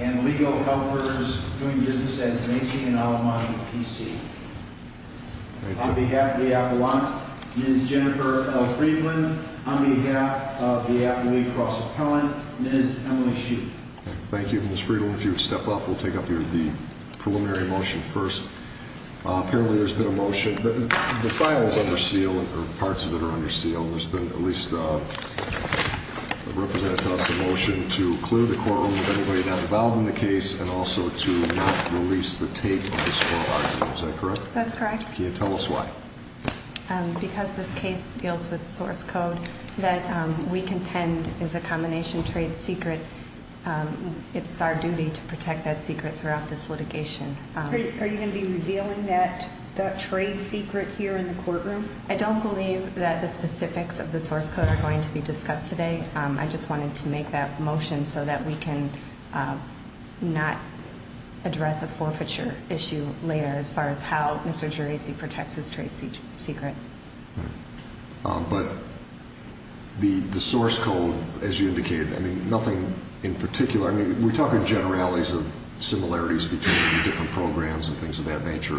and legal helpers doing business as Macy and Alamante P.C. On behalf of the Appalachian, Ms. Jennifer L. Friedland. On behalf of the Appalachian Cross Appellant, Ms. Emily Sheep. Thank you, Ms. Friedland. If you would step up, we'll take up the preliminary motion first. Apparently there's been a motion. The file is under seal, or parts of it are under seal. There's been at least represented to us a motion to clear the courtroom of anybody not involved in the case and also to not release the tape of this oral argument. Is that correct? That's correct. Can you tell us why? Because this case deals with source code that we contend is a combination trade secret. It's our duty to protect that secret throughout this litigation. Are you going to be revealing that trade secret here in the courtroom? I don't believe that the specifics of the source code are going to be discussed today. I just wanted to make that motion so that we can not address a forfeiture issue later as far as how Mr. Geraci protects his trade secret. But the source code, as you indicated, nothing in particular. We're talking generalities of similarities between different programs and things of that nature.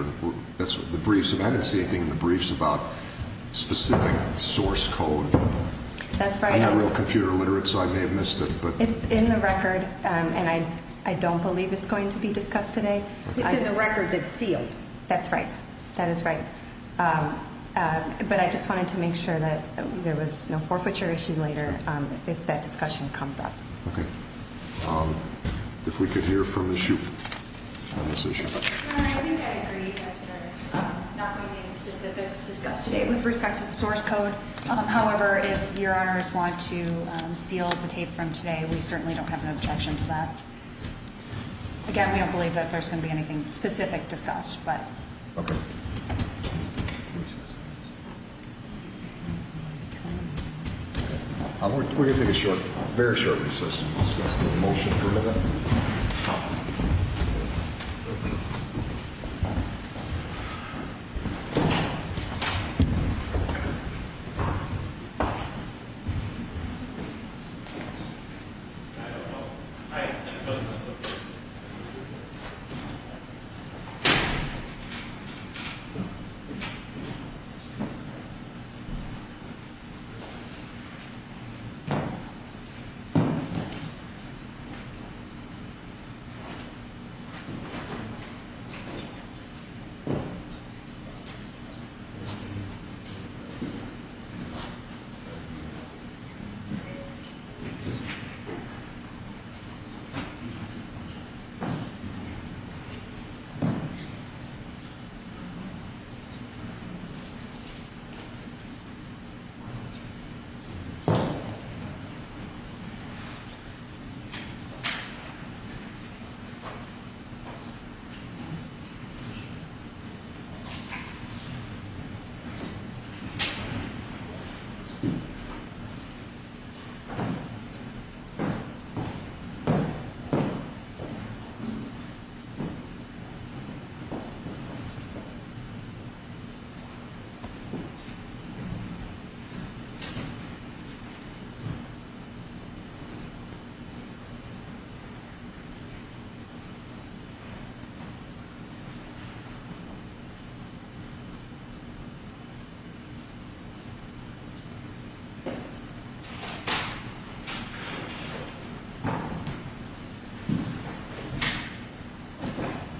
I didn't see anything in the briefs about specific source code. That's right. I'm not real computer literate, so I may have missed it. It's in the record, and I don't believe it's going to be discussed today. It's in the record that's sealed. That's right. That is right. But I just wanted to make sure that there was no forfeiture issue later if that discussion comes up. Okay. If we could hear from Ms. Shoup on this issue. Your Honor, I think I agree that there's not going to be any specifics discussed today with respect to the source code. However, if Your Honors want to seal the tape from today, we certainly don't have an objection to that. Again, we don't believe that there's going to be anything specific discussed. Okay. We're going to take a short, very short recess. Let's do a motion for a minute. I don't know. I don't know. I don't know.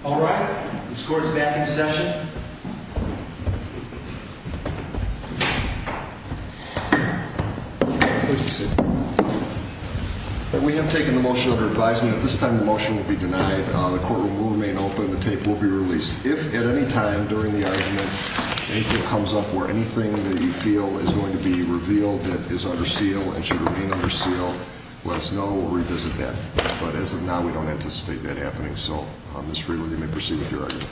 All right. The court is back in session. We have taken the motion under advisement. At this time, the motion will be denied. The courtroom will remain open. The tape will be released. If at any time during the argument anything comes up where anything that you feel is going to be revealed that is under seal and should remain under seal, let us know. We'll revisit that. But as of now, we don't anticipate that happening. So, Ms. Friedland, you may proceed with your argument.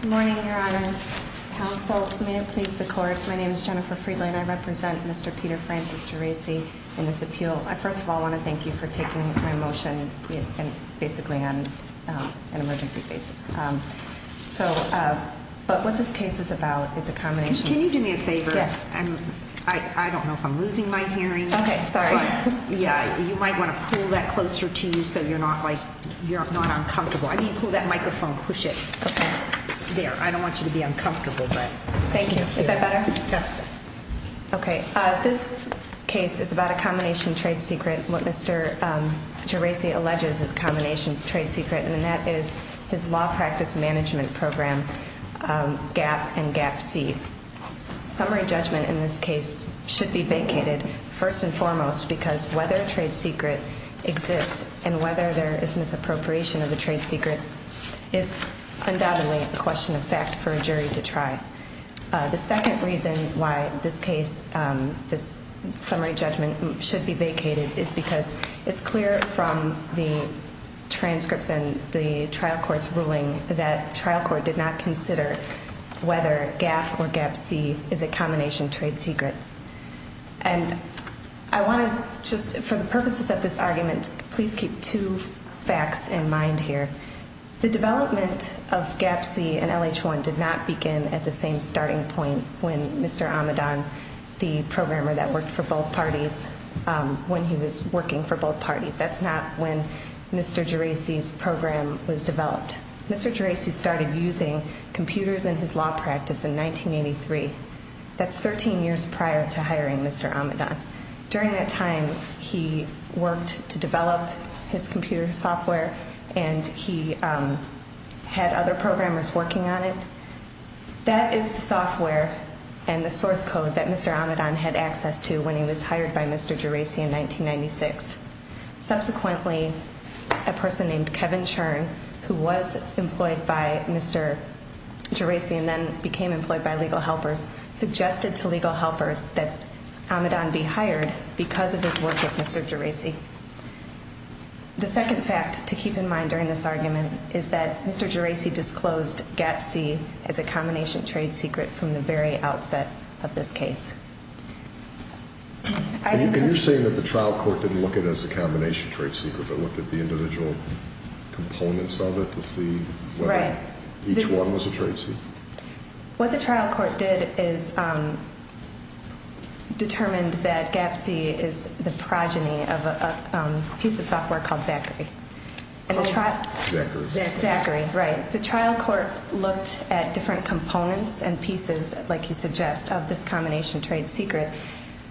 Good morning, Your Honors. Counsel, may it please the court. My name is Jennifer Friedland. I represent Mr. Peter Francis Geraci in this appeal. I first of all want to thank you for taking my motion basically on an emergency basis. So, but what this case is about is a combination of- Can you do me a favor? Yes. I don't know if I'm losing my hearing. Okay, sorry. Yeah, you might want to pull that closer to you so you're not, like, you're not uncomfortable. I mean, pull that microphone. Push it. Okay. There. I don't want you to be uncomfortable, but- Thank you. Is that better? Yes. Okay. This case is about a combination trade secret, what Mr. Geraci alleges is a combination trade secret, and that is his law practice management program, GAP and GAP-C. Summary judgment in this case should be vacated first and foremost because whether a trade secret exists and whether there is misappropriation of a trade secret is undoubtedly a question of fact for a jury to try. The second reason why this case, this summary judgment should be vacated is because it's clear from the transcripts and the trial court's ruling that the trial court did not consider whether GAP or GAP-C is a combination trade secret. And I want to just, for the purposes of this argument, please keep two facts in mind here. The development of GAP-C and LH-1 did not begin at the same starting point when Mr. Amidon, the programmer that worked for both parties, when he was working for both parties. That's not when Mr. Geraci's program was developed. Mr. Geraci started using computers in his law practice in 1983. That's 13 years prior to hiring Mr. Amidon. During that time, he worked to develop his computer software and he had other programmers working on it. That is the software and the source code that Mr. Amidon had access to when he was hired by Mr. Geraci in 1996. Subsequently, a person named Kevin Churn, who was employed by Mr. Geraci and then became employed by Legal Helpers, suggested to Legal Helpers that Amidon be hired because of his work with Mr. Geraci. The second fact to keep in mind during this argument is that Mr. Geraci disclosed GAP-C as a combination trade secret from the very outset of this case. Are you saying that the trial court didn't look at it as a combination trade secret but looked at the individual components of it to see whether each one was a trade secret? What the trial court did is determined that GAP-C is the progeny of a piece of software called Zachary. Zachary. Zachary, right. The trial court looked at different components and pieces, like you suggest, of this combination trade secret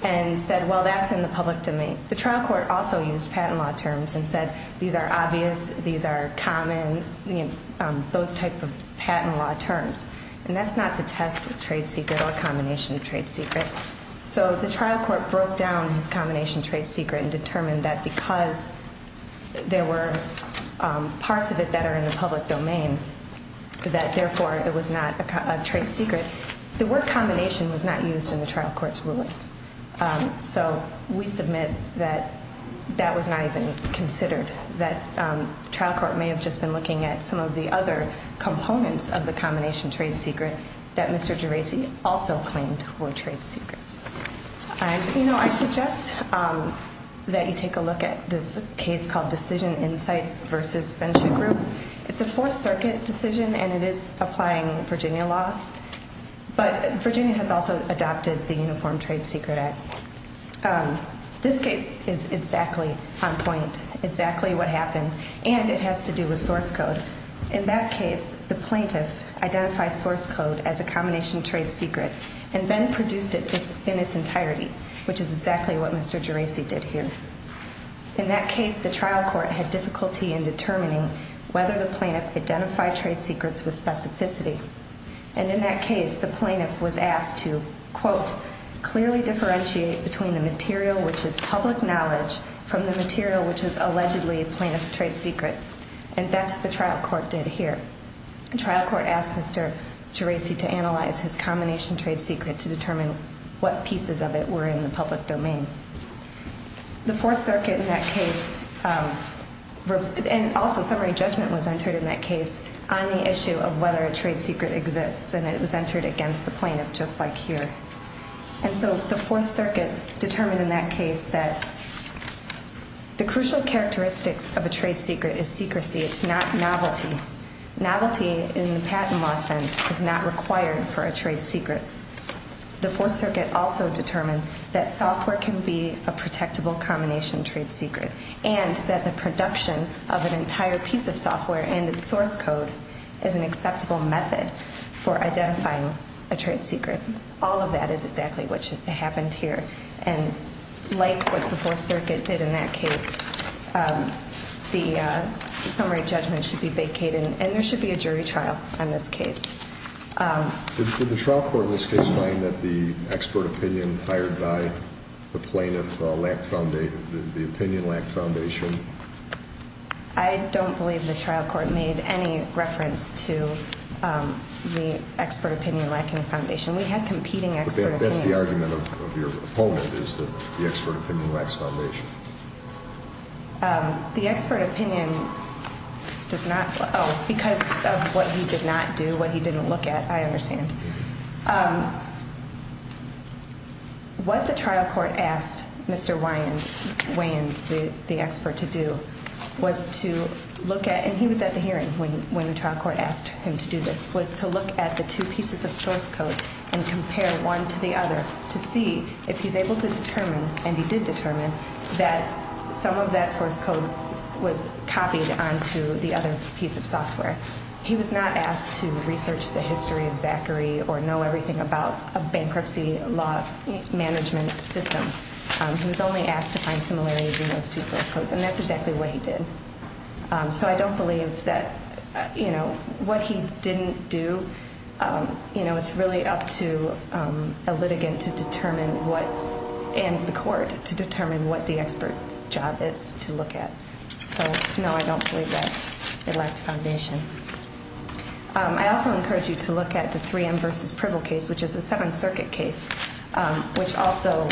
and said, well, that's in the public domain. The trial court also used patent law terms and said, these are obvious, these are common, those type of patent law terms. And that's not the test of trade secret or combination trade secret. So the trial court broke down his combination trade secret and determined that because there were parts of it that are in the public domain, that therefore it was not a trade secret. The word combination was not used in the trial court's ruling. So we submit that that was not even considered, that the trial court may have just been looking at some of the other components of the combination trade secret that Mr. Gerasi also claimed were trade secrets. And, you know, I suggest that you take a look at this case called Decision Insights v. Sensu Group. It's a Fourth Circuit decision, and it is applying Virginia law. But Virginia has also adopted the Uniform Trade Secret Act. This case is exactly on point, exactly what happened, and it has to do with source code. In that case, the plaintiff identified source code as a combination trade secret and then produced it in its entirety, which is exactly what Mr. Gerasi did here. In that case, the trial court had difficulty in determining whether the plaintiff identified trade secrets with specificity. And in that case, the plaintiff was asked to, quote, clearly differentiate between the material, which is public knowledge, from the material, which is allegedly a plaintiff's trade secret. And that's what the trial court did here. The trial court asked Mr. Gerasi to analyze his combination trade secret to determine what pieces of it were in the public domain. The Fourth Circuit in that case, and also summary judgment was entered in that case on the issue of whether a trade secret exists. And it was entered against the plaintiff, just like here. And so the Fourth Circuit determined in that case that the crucial characteristics of a trade secret is secrecy. It's not novelty. Novelty in the patent law sense is not required for a trade secret. The Fourth Circuit also determined that software can be a protectable combination trade secret, and that the production of an entire piece of software and its source code is an acceptable method for identifying a trade secret. All of that is exactly what happened here. And like what the Fourth Circuit did in that case, the summary judgment should be vacated, and there should be a jury trial on this case. Did the trial court in this case find that the expert opinion hired by the plaintiff lacked foundation, the opinion lacked foundation? I don't believe the trial court made any reference to the expert opinion lacking foundation. We had competing expert opinions. But that's the argument of your opponent, is that the expert opinion lacks foundation. The expert opinion does not – oh, because of what he did not do, what he didn't look at, I understand. What the trial court asked Mr. Wayand, the expert, to do was to look at – and he was at the hearing when the trial court asked him to do this – was to look at the two pieces of source code and compare one to the other to see if he's able to determine, and he did determine, that some of that source code was copied onto the other piece of software. He was not asked to research the history of Zachary or know everything about a bankruptcy law management system. He was only asked to find similarities in those two source codes, and that's exactly what he did. So I don't believe that, you know, what he didn't do, you know, it's really up to a litigant to determine what – and the court to determine what the expert job is to look at. So, no, I don't believe that it lacked foundation. I also encourage you to look at the 3M v. Privil case, which is a Seventh Circuit case, which also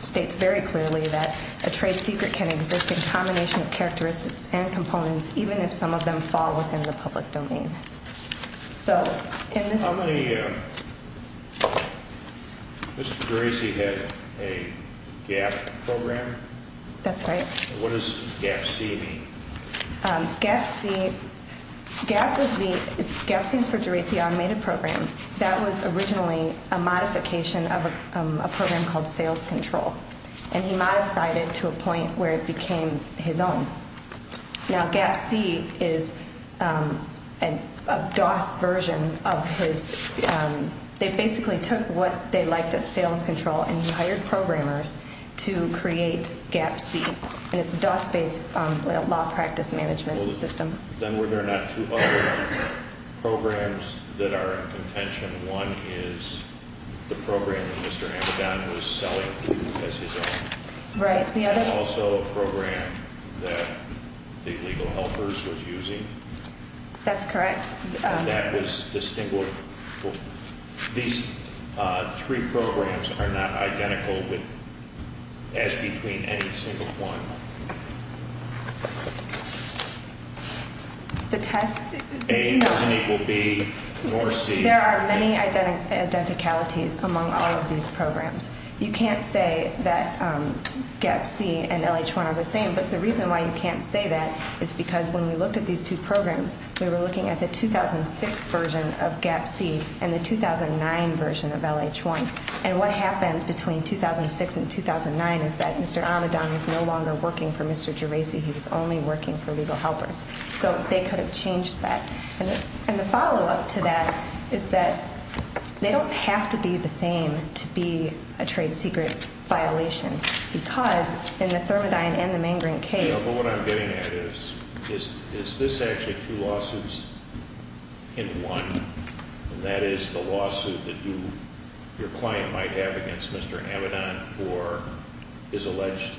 states very clearly that a trade secret can exist in combination of characteristics and components, even if some of them fall within the public domain. So, in this – How many – Mr. Geraci had a GAP program? That's right. What does GAPC mean? GAPC – GAP was the – GAPC is for Geraci Automated Program. That was originally a modification of a program called Sales Control, and he modified it to a point where it became his own. Now, GAPC is a DOS version of his – they basically took what they liked at Sales Control and hired programmers to create GAPC, and it's a DOS-based law practice management system. Then were there not two other programs that are in contention? One is the program that Mr. Amidon was selling to as his own. Right. The other – Also a program that the legal helpers was using. That's correct. That was distinguished. These three programs are not identical as between any single one. The test – A doesn't equal B nor C. There are many identicalities among all of these programs. You can't say that GAPC and LH1 are the same, but the reason why you can't say that is because when we looked at these two programs, we were looking at the 2006 version of GAPC and the 2009 version of LH1. And what happened between 2006 and 2009 is that Mr. Amidon was no longer working for Mr. Gerasi. He was only working for legal helpers. So they could have changed that. And the follow-up to that is that they don't have to be the same to be a trade secret violation because in the Thermodyne and the Mangren case – There are two lawsuits in one, and that is the lawsuit that your client might have against Mr. Amidon for his alleged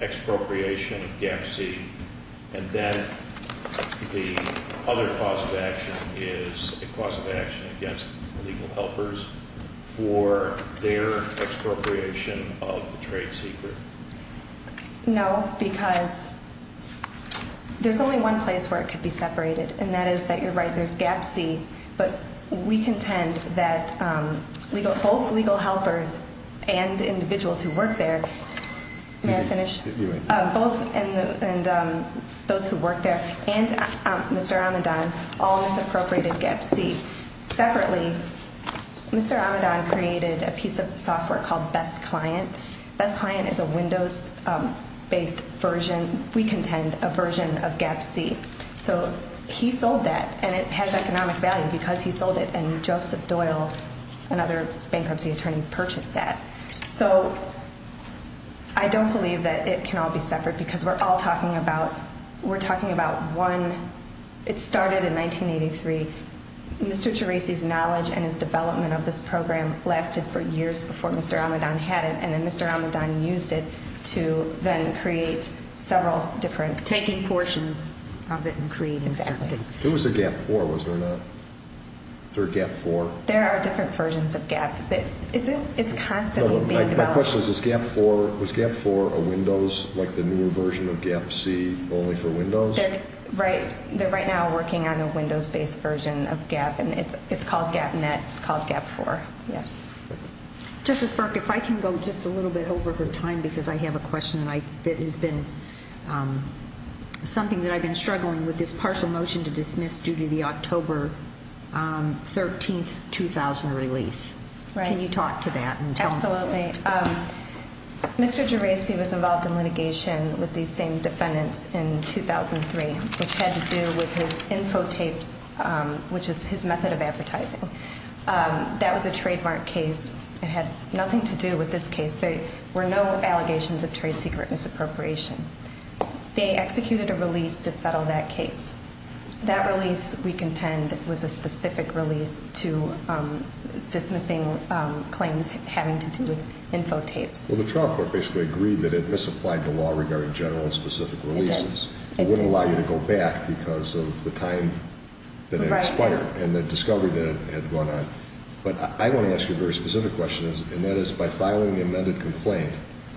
expropriation of GAPC. And then the other cause of action is a cause of action against legal helpers for their expropriation of the trade secret. No, because there's only one place where it could be separated, and that is that you're right, there's GAPC, but we contend that both legal helpers and individuals who work there – May I finish? You may. Both those who work there and Mr. Amidon all misappropriated GAPC. Separately, Mr. Amidon created a piece of software called Best Client. Best Client is a Windows-based version. We contend a version of GAPC. So he sold that, and it has economic value because he sold it, and Joseph Doyle, another bankruptcy attorney, purchased that. So I don't believe that it can all be separate because we're all talking about – We're talking about one – It started in 1983. Mr. Terasi's knowledge and his development of this program lasted for years before Mr. Amidon had it, and then Mr. Amidon used it to then create several different – Taking portions of it and creating certain things. Exactly. It was a GAP4, was it not? Is there a GAP4? There are different versions of GAP, but it's constantly being developed. My question is, was GAP4 a Windows, like the newer version of GAPC, only for Windows? They're right now working on a Windows-based version of GAP, and it's called GAPnet, it's called GAP4, yes. Justice Burke, if I can go just a little bit over her time because I have a question that has been something that I've been struggling with, this partial motion to dismiss due to the October 13, 2000 release. Can you talk to that? Absolutely. Mr. Terasi was involved in litigation with these same defendants in 2003, which had to do with his infotapes, which is his method of advertising. That was a trademark case. It had nothing to do with this case. There were no allegations of trade secret misappropriation. They executed a release to settle that case. That release, we contend, was a specific release to dismissing claims having to do with infotapes. Well, the trial court basically agreed that it misapplied the law regarding general and specific releases. It did. It wouldn't allow you to go back because of the time that it expired, and the discovery that it had gone on. But I want to ask you a very specific question, and that is, by filing the amended complaint,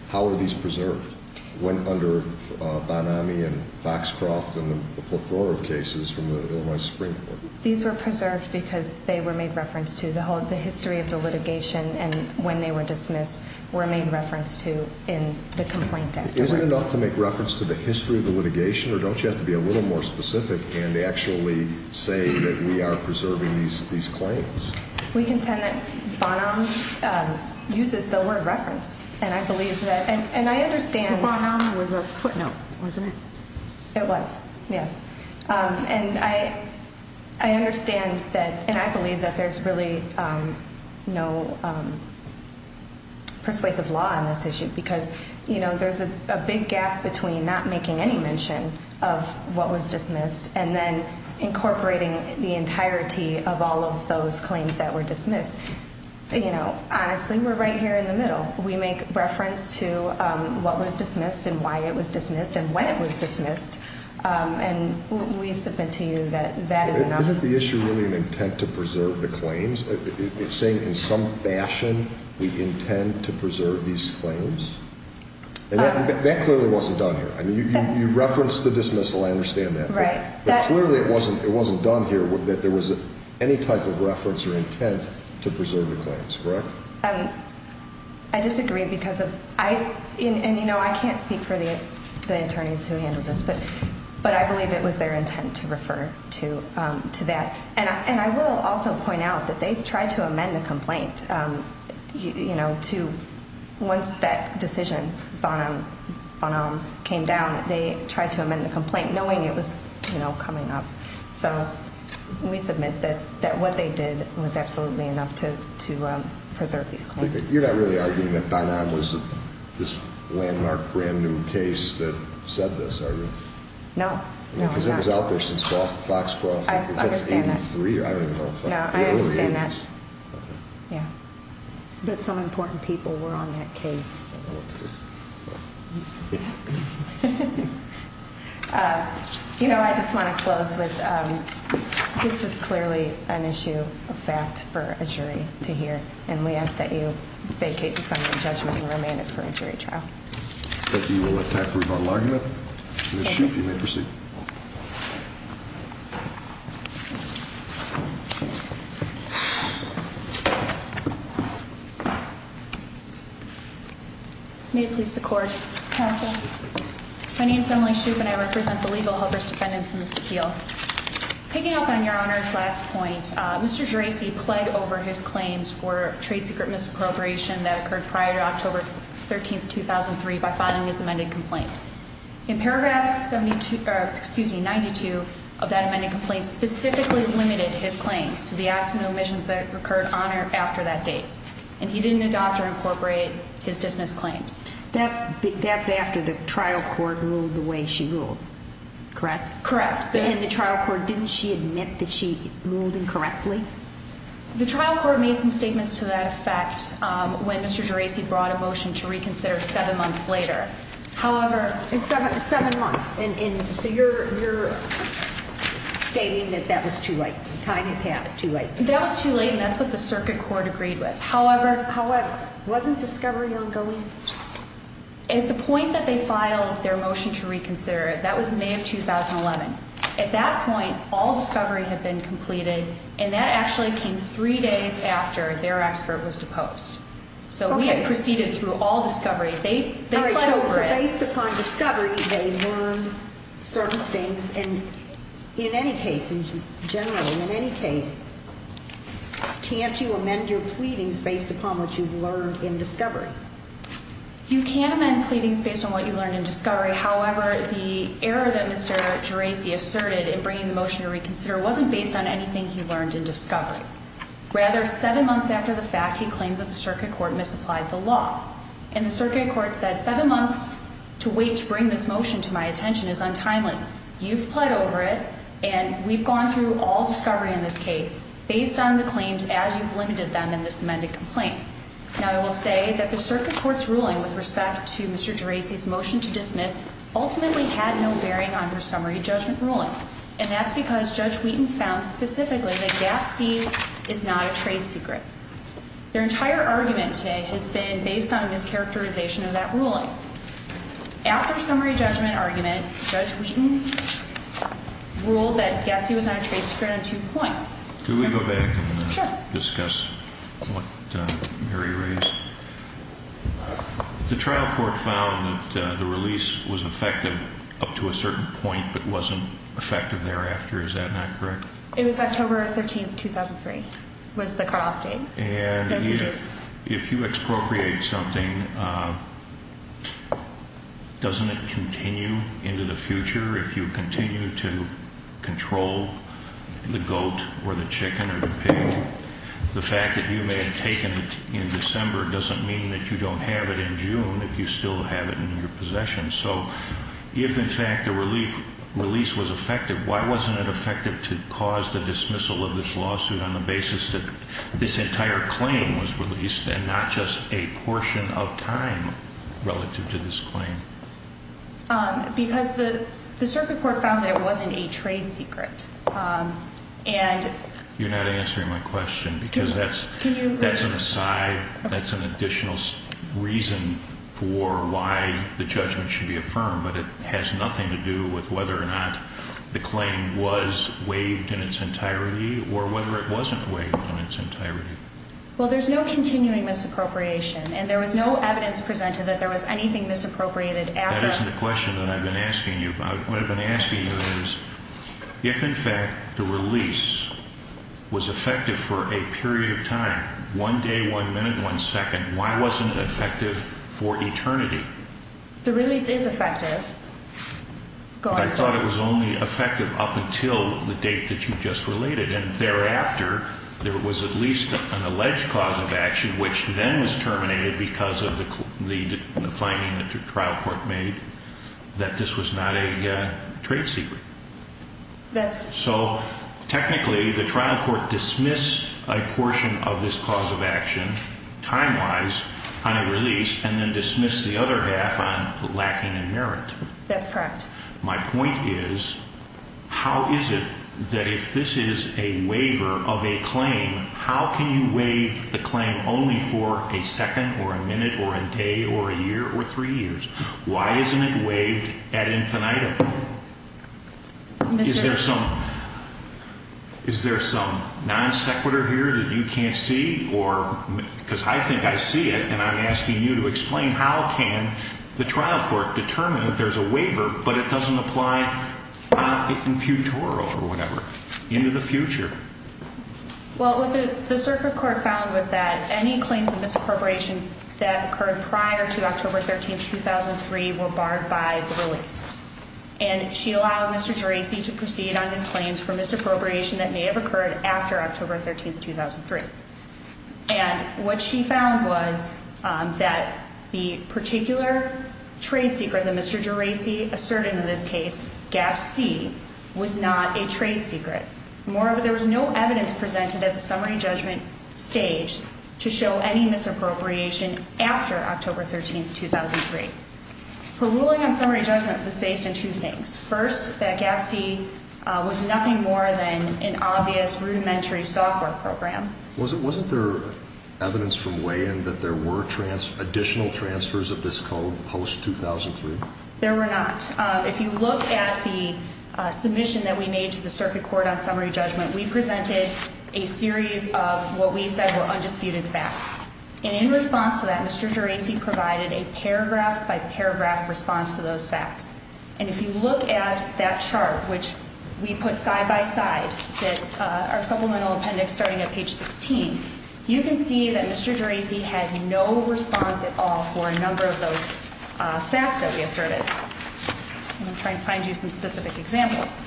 how are these preserved? It went under Banami and Foxcroft and a plethora of cases from the Illinois Supreme Court. These were preserved because they were made reference to. The history of the litigation and when they were dismissed were made reference to in the complaint documents. Do you have to be a little more specific in actually saying that we are preserving these claims? We contend that Banami uses the word referenced, and I believe that, and I understand. Banami was a footnote, wasn't it? It was, yes. And I understand that, and I believe that there's really no persuasive law on this issue because there's a big gap between not making any mention of what was dismissed and then incorporating the entirety of all of those claims that were dismissed. Honestly, we're right here in the middle. We make reference to what was dismissed and why it was dismissed and when it was dismissed, and we submit to you that that is enough. Are you saying in some fashion we intend to preserve these claims? That clearly wasn't done here. You referenced the dismissal. I understand that. Right. But clearly it wasn't done here that there was any type of reference or intent to preserve the claims, correct? I disagree because of, and, you know, I can't speak for the attorneys who handled this, but I believe it was their intent to refer to that. And I will also point out that they tried to amend the complaint, you know, to once that decision, Banami, came down, they tried to amend the complaint knowing it was, you know, coming up. So we submit that what they did was absolutely enough to preserve these claims. You're not really arguing that Banami was this landmark brand-new case that said this, are you? No, no, I'm not. Because it was out there since Foxcroft. I understand that. I don't even know. No, I understand that. Yeah. But some important people were on that case. You know, I just want to close with this is clearly an issue of fact for a jury to hear, and we ask that you vacate this on your judgment and remain it for a jury trial. Thank you. We'll let time for rebuttal argument. Ms. Shoup, you may proceed. May it please the Court. Counsel. My name is Emily Shoup, and I represent the Legal Helper's Defendants in this appeal. Picking up on Your Honor's last point, Mr. Gerasi pled over his claims for trade secret misappropriation that occurred prior to October 13, 2003 by filing his amended complaint. In paragraph 72, or excuse me, 92 of that amended complaint specifically limited his claims to the absent omissions that occurred on or after that date, and he didn't adopt or incorporate his dismissed claims. That's after the trial court ruled the way she ruled, correct? Correct. And the trial court, didn't she admit that she ruled incorrectly? The trial court made some statements to that effect when Mr. Gerasi brought a motion to reconsider seven months later. However. Seven months, and so you're stating that that was too late, time had passed too late. That was too late, and that's what the circuit court agreed with. However. However. Wasn't discovery ongoing? At the point that they filed their motion to reconsider it, that was May of 2011. At that point, all discovery had been completed, and that actually came three days after their expert was deposed. Okay. So we had proceeded through all discovery. They pled over it. All right, so based upon discovery, they learned certain things. And in any case, generally, in any case, can't you amend your pleadings based upon what you've learned in discovery? You can amend pleadings based on what you learned in discovery. However, the error that Mr. Gerasi asserted in bringing the motion to reconsider wasn't based on anything he learned in discovery. Rather, seven months after the fact, he claimed that the circuit court misapplied the law. And the circuit court said seven months to wait to bring this motion to my attention is untimely. You've pled over it, and we've gone through all discovery in this case based on the claims as you've limited them in this amended complaint. Now, I will say that the circuit court's ruling with respect to Mr. Gerasi's motion to dismiss ultimately had no bearing on her summary judgment ruling. And that's because Judge Wheaton found specifically that GAPC is not a trade secret. Their entire argument today has been based on a mischaracterization of that ruling. After summary judgment argument, Judge Wheaton ruled that GAPC was not a trade secret on two points. Can we go back and discuss what Mary raised? The trial court found that the release was effective up to a certain point but wasn't effective thereafter. Is that not correct? It was October 13th, 2003, was the cutoff date. And if you expropriate something, doesn't it continue into the future if you continue to control the goat or the chicken or the pig? The fact that you may have taken it in December doesn't mean that you don't have it in June if you still have it in your possession. So if, in fact, the release was effective, why wasn't it effective to cause the dismissal of this lawsuit on the basis that this entire claim was released and not just a portion of time relative to this claim? Because the circuit court found that it wasn't a trade secret. You're not answering my question because that's an aside. That's an additional reason for why the judgment should be affirmed. But it has nothing to do with whether or not the claim was waived in its entirety or whether it wasn't waived in its entirety. Well, there's no continuing misappropriation, and there was no evidence presented that there was anything misappropriated after. That isn't the question that I've been asking you about. What I've been asking you is if, in fact, the release was effective for a period of time, one day, one minute, one second, why wasn't it effective for eternity? The release is effective. I thought it was only effective up until the date that you just related. And thereafter, there was at least an alleged cause of action, which then was terminated because of the finding that the trial court made that this was not a trade secret. So, technically, the trial court dismissed a portion of this cause of action, time-wise, on a release, and then dismissed the other half on lacking in merit. That's correct. My point is, how is it that if this is a waiver of a claim, how can you waive the claim only for a second or a minute or a day or a year or three years? Why isn't it waived ad infinitum? Is there some non sequitur here that you can't see? Because I think I see it, and I'm asking you to explain how can the trial court determine that there's a waiver, but it doesn't apply in futuro or whatever, into the future? Well, what the circuit court found was that any claims of misappropriation that occurred prior to October 13, 2003 were barred by the release. And she allowed Mr. Geraci to proceed on his claims for misappropriation that may have occurred after October 13, 2003. And what she found was that the particular trade secret that Mr. Geraci asserted in this case, Gap C, was not a trade secret. Moreover, there was no evidence presented at the summary judgment stage to show any misappropriation after October 13, 2003. Her ruling on summary judgment was based on two things. First, that Gap C was nothing more than an obvious rudimentary software program. Wasn't there evidence from weigh-in that there were additional transfers of this code post-2003? There were not. If you look at the submission that we made to the circuit court on summary judgment, we presented a series of what we said were undisputed facts. And in response to that, Mr. Geraci provided a paragraph-by-paragraph response to those facts. And if you look at that chart, which we put side-by-side, our supplemental appendix starting at page 16, you can see that Mr. Geraci had no response at all for a number of those facts that we asserted. I'm going to try and find you some specific examples.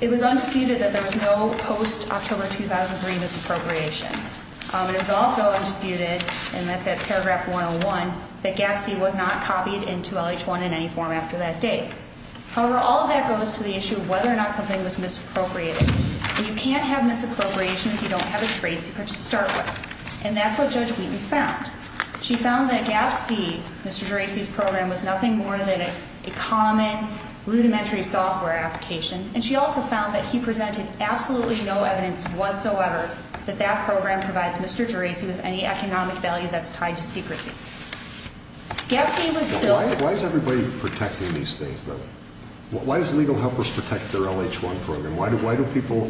It was undisputed that there was no post-October 2003 misappropriation. It was also undisputed, and that's at paragraph 101, that Gap C was not copied into LH1 in any form after that date. However, all of that goes to the issue of whether or not something was misappropriated. And you can't have misappropriation if you don't have a trade secret to start with. And that's what Judge Wheaton found. She found that Gap C, Mr. Geraci's program, was nothing more than a common rudimentary software application. And she also found that he presented absolutely no evidence whatsoever that that program provides Mr. Geraci with any economic value that's tied to secrecy. Why is everybody protecting these things, though? Why does Legal Helpers protect their LH1 program? Why do people,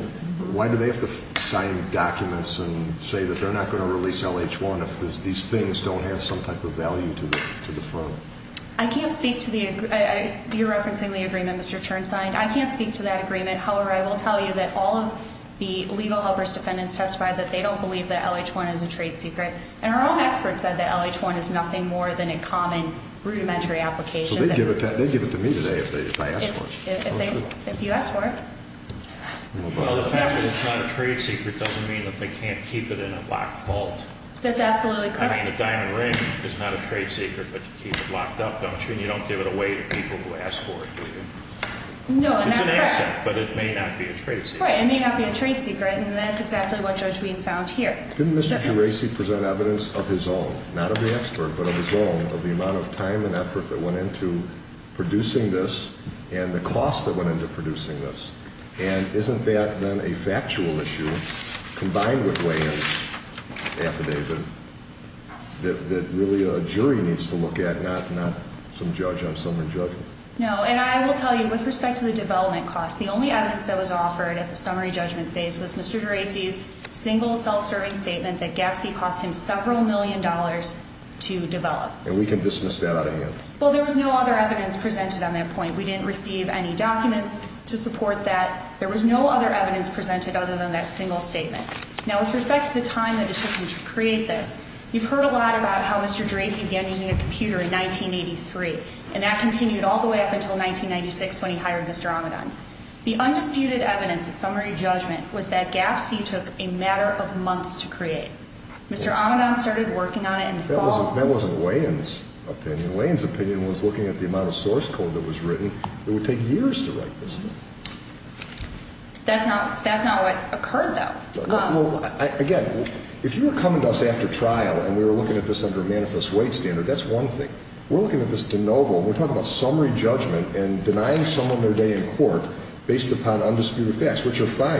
why do they have to sign documents and say that they're not going to release LH1 if these things don't have some type of value to the firm? I can't speak to the, you're referencing the agreement Mr. Chern signed. I can't speak to that agreement. However, I will tell you that all of the Legal Helpers defendants testified that they don't believe that LH1 is a trade secret. And our own experts said that LH1 is nothing more than a common rudimentary application. So they give it to me today if I ask for it. If you ask for it. Well, the fact that it's not a trade secret doesn't mean that they can't keep it in a locked vault. That's absolutely correct. I mean, a diamond ring is not a trade secret, but you keep it locked up, don't you? And you don't give it away to people who ask for it, do you? No, and that's correct. It's an asset, but it may not be a trade secret. Right, it may not be a trade secret. And that's exactly what Judge Wheaton found here. Didn't Mr. Geraci present evidence of his own, not of the expert, but of his own, of the amount of time and effort that went into producing this and the cost that went into producing this? And isn't that then a factual issue combined with weigh-ins affidavit that really a jury needs to look at, not some judge on summary judgment? No, and I will tell you, with respect to the development costs, the only evidence that was offered at the summary judgment phase was Mr. Geraci's single self-serving statement that GAPC cost him several million dollars to develop. And we can dismiss that out of hand. Well, there was no other evidence presented on that point. We didn't receive any documents to support that. There was no other evidence presented other than that single statement. Now, with respect to the time that it took him to create this, you've heard a lot about how Mr. Geraci began using a computer in 1983, and that continued all the way up until 1996 when he hired Mr. Amidon. The undisputed evidence at summary judgment was that GAPC took a matter of months to create. Mr. Amidon started working on it in the fall. That wasn't weigh-ins opinion. Weigh-ins opinion was looking at the amount of source code that was written. It would take years to write this thing. That's not what occurred, though. Again, if you were coming to us after trial and we were looking at this under a manifest weight standard, that's one thing. We're looking at this de novo. We're talking about summary judgment and denying someone their day in court based upon undisputed facts, which are fine.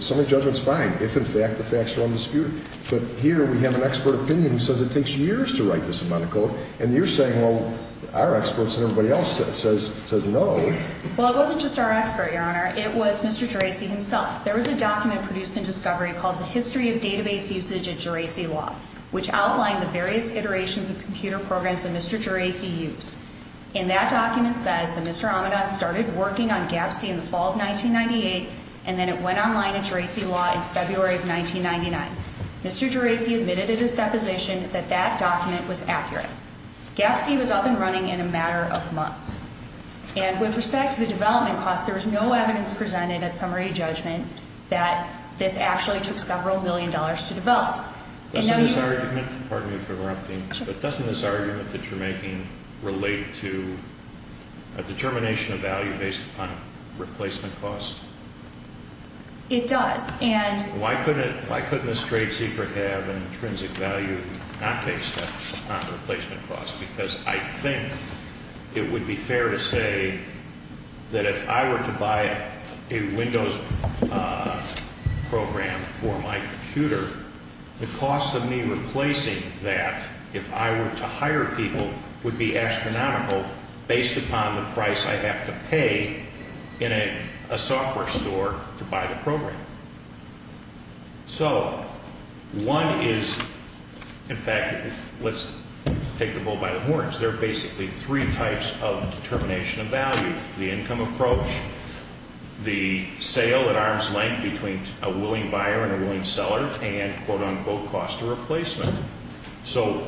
Summary judgment's fine if, in fact, the facts are undisputed. But here we have an expert opinion who says it takes years to write this amount of code, and you're saying, well, our experts and everybody else says no. Well, it wasn't just our expert, Your Honor. It was Mr. Geraci himself. There was a document produced in Discovery called The History of Database Usage at Geraci Law, which outlined the various iterations of computer programs that Mr. Geraci used. And that document says that Mr. Amidon started working on GAFC in the fall of 1998, and then it went online at Geraci Law in February of 1999. Mr. Geraci admitted at his deposition that that document was accurate. GAFC was up and running in a matter of months. And with respect to the development cost, there was no evidence presented at summary judgment that this actually took several million dollars to develop. Doesn't this argument, pardon me for interrupting this, but doesn't this argument that you're making relate to a determination of value based upon replacement cost? It does. And why couldn't a straight seeker have an intrinsic value not based upon replacement cost? Because I think it would be fair to say that if I were to buy a Windows program for my computer, the cost of me replacing that, if I were to hire people, would be astronomical based upon the price I have to pay in a software store to buy the program. So one is, in fact, let's take the bull by the horns. There are basically three types of determination of value. The income approach, the sale at arm's length between a willing buyer and a willing seller, and quote unquote cost of replacement. So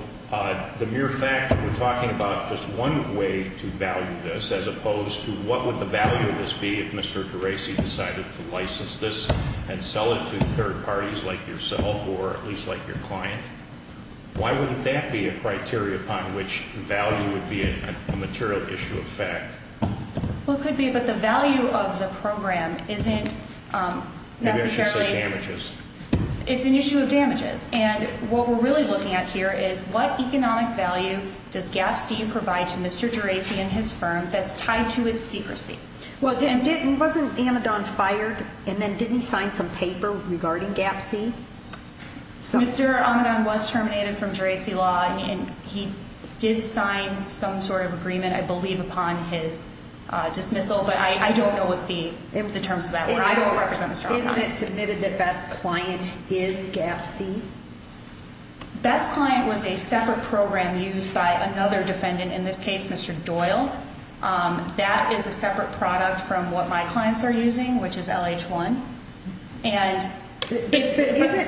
the mere fact that we're talking about just one way to value this as opposed to what would the value of this be if Mr. Gerasi decided to license this and sell it to third parties like yourself or at least like your client, why wouldn't that be a criteria upon which value would be a material issue of fact? Well, it could be, but the value of the program isn't necessarily. You should say damages. It's an issue of damages. And what we're really looking at here is what economic value does GAP-C provide to Mr. Gerasi and his firm that's tied to its secrecy? Well, wasn't Amidon fired and then didn't he sign some paper regarding GAP-C? Mr. Amidon was terminated from Gerasi Law, and he did sign some sort of agreement, I believe, upon his dismissal, but I don't know what the terms of that were. I don't represent Mr. Amidon. Isn't it submitted that Best Client is GAP-C? Best Client was a separate program used by another defendant, in this case Mr. Doyle. That is a separate product from what my clients are using, which is LH-1.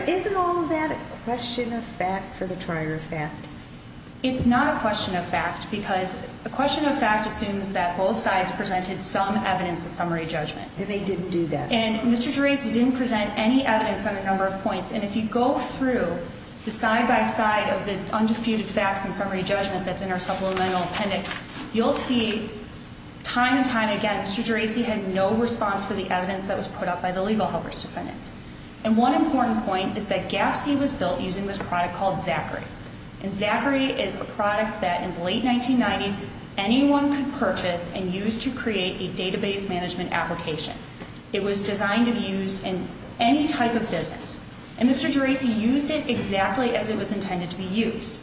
Isn't all that a question of fact for the trier of fact? It's not a question of fact because a question of fact assumes that both sides presented some evidence of summary judgment. And they didn't do that. And Mr. Gerasi didn't present any evidence on a number of points. And if you go through the side-by-side of the undisputed facts and summary judgment that's in our supplemental appendix, you'll see time and time again Mr. Gerasi had no response for the evidence that was put up by the legal helper's defendants. And one important point is that GAP-C was built using this product called Zachary. And Zachary is a product that in the late 1990s anyone could purchase and use to create a database management application. It was designed to be used in any type of business. And Mr. Gerasi used it exactly as it was intended to be used.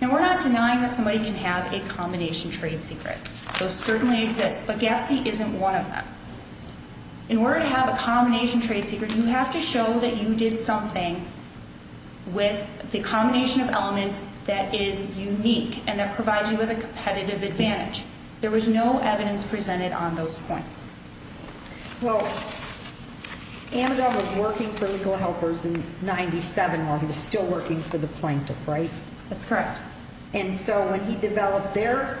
Now we're not denying that somebody can have a combination trade secret. Those certainly exist. But GAP-C isn't one of them. In order to have a combination trade secret, you have to show that you did something with the combination of elements that is unique and that provides you with a competitive advantage. There was no evidence presented on those points. Well, Amado was working for legal helpers in 1997 while he was still working for the plaintiff, right? That's correct. And so when he developed their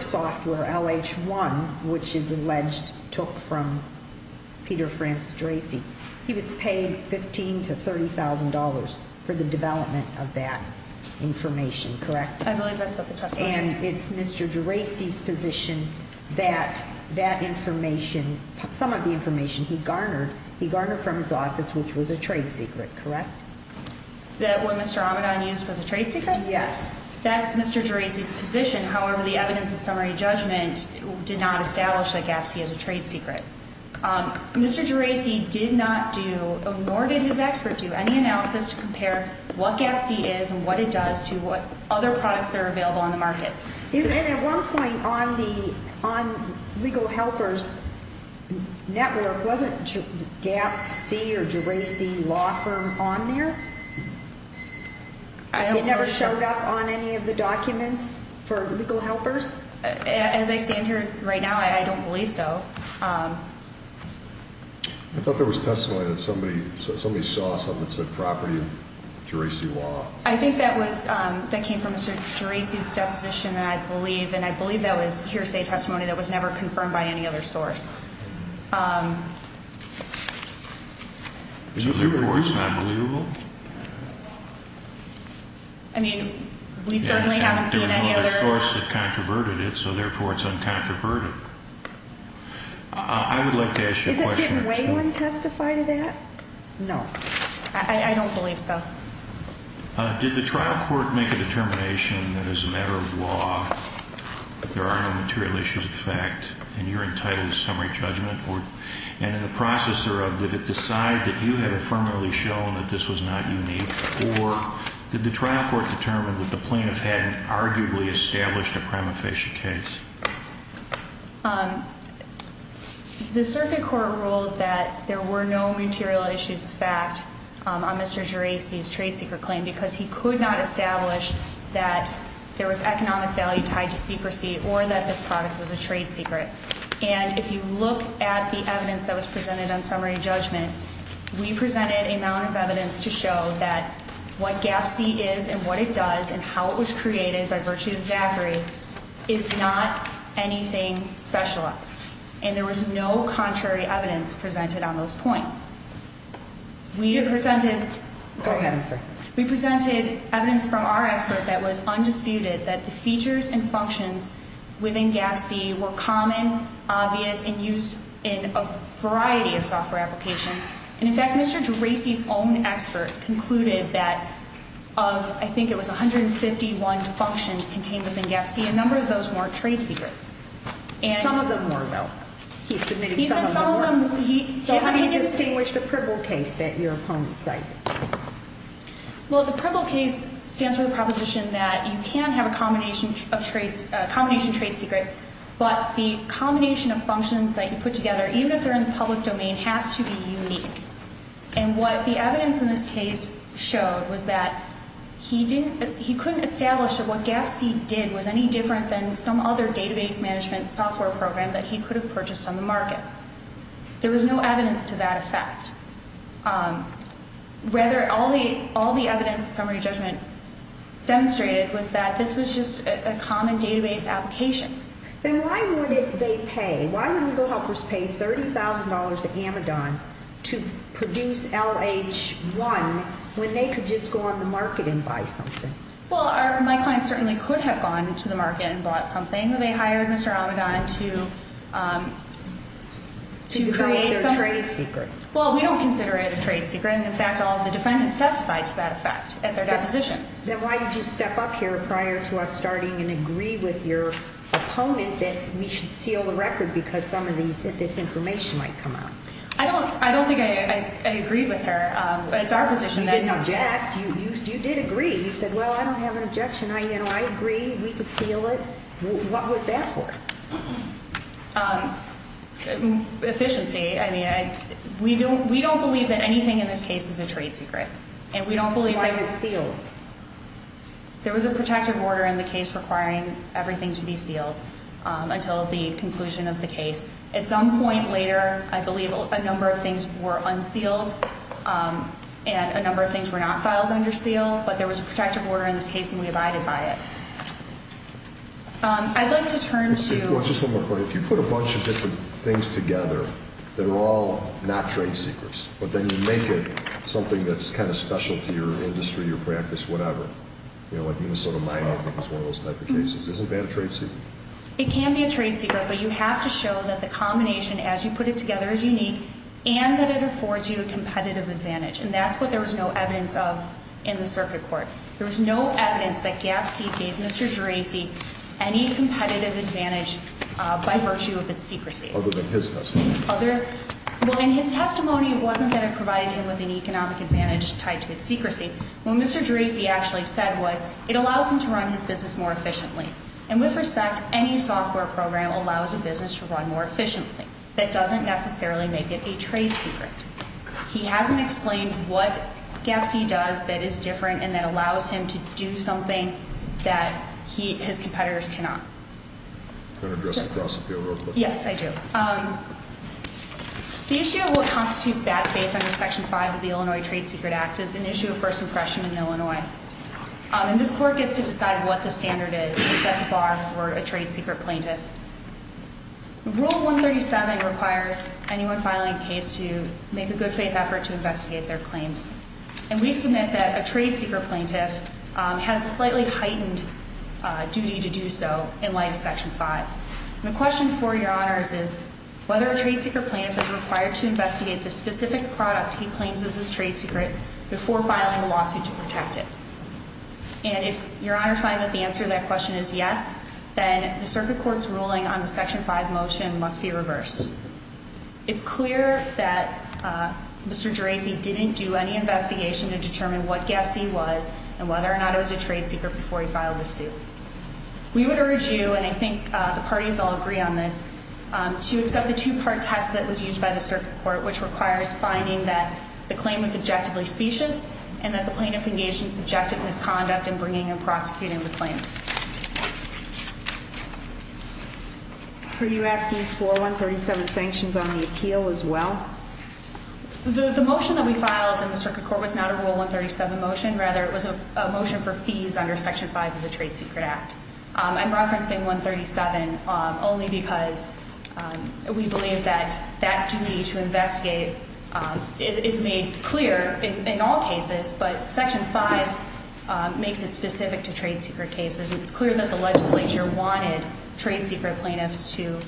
software, LH1, which is alleged took from Peter Francis Gerasi, he was paid $15,000 to $30,000 for the development of that information, correct? I believe that's what the testimony is. And it's Mr. Gerasi's position that that information, some of the information he garnered, he garnered from his office, which was a trade secret, correct? That what Mr. Amado used was a trade secret? Yes. That's Mr. Gerasi's position. However, the evidence in summary judgment did not establish that GAP-C is a trade secret. Mr. Gerasi did not do, nor did his expert do, any analysis to compare what GAP-C is and what it does to what other products that are available on the market. And at one point on legal helpers' network, wasn't GAP-C or Gerasi Law Firm on there? It never showed up on any of the documents for legal helpers? As I stand here right now, I don't believe so. I thought there was testimony that somebody saw something that said property of Gerasi Law. I think that was, that came from Mr. Gerasi's deposition, I believe. And I believe that was hearsay testimony that was never confirmed by any other source. So therefore, it's not believable? I mean, we certainly haven't seen any other. There's no other source that controverted it, so therefore it's uncontroverted. I would like to ask you a question. Didn't Wayland testify to that? No. I don't believe so. Did the trial court make a determination that as a matter of law, there are no material issues of fact in your entitled summary judgment? And in the process thereof, did it decide that you had affirmatively shown that this was not unique? Or did the trial court determine that the plaintiff had arguably established a prima facie case? The circuit court ruled that there were no material issues of fact on Mr. Gerasi's trade secret claim because he could not establish that there was economic value tied to secrecy or that this product was a trade secret. And if you look at the evidence that was presented on summary judgment, we presented a amount of evidence to show that what GAPC is and what it does and how it was created by virtue of Zachary is not anything specialized. And there was no contrary evidence presented on those points. We presented evidence from our expert that was undisputed that the features and functions within GAPC were common, obvious, and used in a variety of software applications. And in fact, Mr. Gerasi's own expert concluded that of, I think it was 151 functions contained within GAPC, a number of those weren't trade secrets. Some of them were, though. He said some of them were. So how do you distinguish the PRBL case that your opponent cited? Well, the PRBL case stands for the proposition that you can have a combination trade secret, but the combination of functions that you put together, even if they're in the public domain, has to be unique. And what the evidence in this case showed was that he couldn't establish that what GAPC did was any different than some other database management software program that he could have purchased on the market. There was no evidence to that effect. Rather, all the evidence in summary judgment demonstrated was that this was just a common database application. Then why would they pay? Why would legal helpers pay $30,000 to Amidon to produce LH1 when they could just go on the market and buy something? Well, my client certainly could have gone to the market and bought something. They hired Mr. Amidon to create something. To develop their trade secret. Well, we don't consider it a trade secret, and, in fact, all of the defendants testified to that effect at their depositions. Then why did you step up here prior to us starting and agree with your opponent that we should seal the record because some of this information might come out? I don't think I agreed with her. It's our position. You didn't object. You did agree. You said, well, I don't have an objection. I agree. We could seal it. What was that for? Efficiency. I mean, we don't believe that anything in this case is a trade secret, and we don't believe that. Why was it sealed? There was a protective order in the case requiring everything to be sealed until the conclusion of the case. At some point later, I believe a number of things were unsealed and a number of things were not filed under seal, but there was a protective order in this case, and we abided by it. I'd like to turn to you. Well, just one more point. If you put a bunch of different things together that are all not trade secrets, but then you make it something that's kind of special to your industry, your practice, whatever, you know, like Minnesota mining is one of those type of cases, isn't that a trade secret? It can be a trade secret, but you have to show that the combination as you put it together is unique and that it affords you a competitive advantage, and that's what there was no evidence of in the circuit court. There was no evidence that GAPC gave Mr. Gerasi any competitive advantage by virtue of its secrecy. Other than his testimony. Other – well, in his testimony, it wasn't that it provided him with an economic advantage tied to its secrecy. What Mr. Gerasi actually said was it allows him to run his business more efficiently, and with respect, any software program allows a business to run more efficiently. That doesn't necessarily make it a trade secret. He hasn't explained what GAPC does that is different and that allows him to do something that his competitors cannot. Can I address the cross-appeal real quick? Yes, I do. The issue of what constitutes bad faith under Section 5 of the Illinois Trade Secret Act is an issue of first impression in Illinois, and this court gets to decide what the standard is and set the bar for a trade secret plaintiff. Rule 137 requires anyone filing a case to make a good faith effort to investigate their claims, and we submit that a trade secret plaintiff has a slightly heightened duty to do so in light of Section 5. The question for Your Honors is whether a trade secret plaintiff is required to investigate the specific product he claims is his trade secret before filing a lawsuit to protect it. And if Your Honor finds that the answer to that question is yes, then the circuit court's ruling on the Section 5 motion must be reversed. It's clear that Mr. Gerasi didn't do any investigation to determine what GAPC was and whether or not it was a trade secret before he filed the suit. We would urge you, and I think the parties all agree on this, to accept the two-part test that was used by the circuit court, which requires finding that the claim was objectively specious and that the plaintiff engaged in subjective misconduct in bringing and prosecuting the claim. Are you asking for 137 sanctions on the appeal as well? The motion that we filed in the circuit court was not a Rule 137 motion. Rather, it was a motion for fees under Section 5 of the Trade Secret Act. I'm referencing 137 only because we believe that that duty to investigate is made clear in all cases, but Section 5 makes it specific to trade secret cases. And it's clear that the legislature wanted trade secret plaintiffs to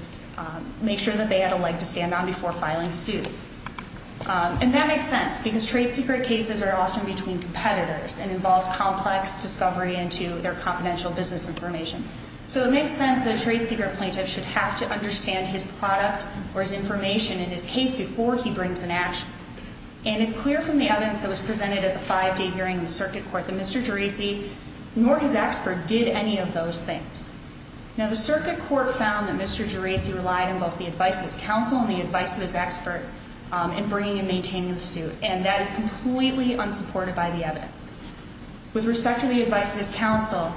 make sure that they had a leg to stand on before filing suit. And that makes sense because trade secret cases are often between competitors and involves complex discovery into their confidential business information. So it makes sense that a trade secret plaintiff should have to understand his product or his information in his case before he brings an action. And it's clear from the evidence that was presented at the five-day hearing in the circuit court that Mr. Geraci, nor his expert, did any of those things. Now, the circuit court found that Mr. Geraci relied on both the advice of his counsel and the advice of his expert in bringing and maintaining the suit, and that is completely unsupported by the evidence. With respect to the advice of his counsel,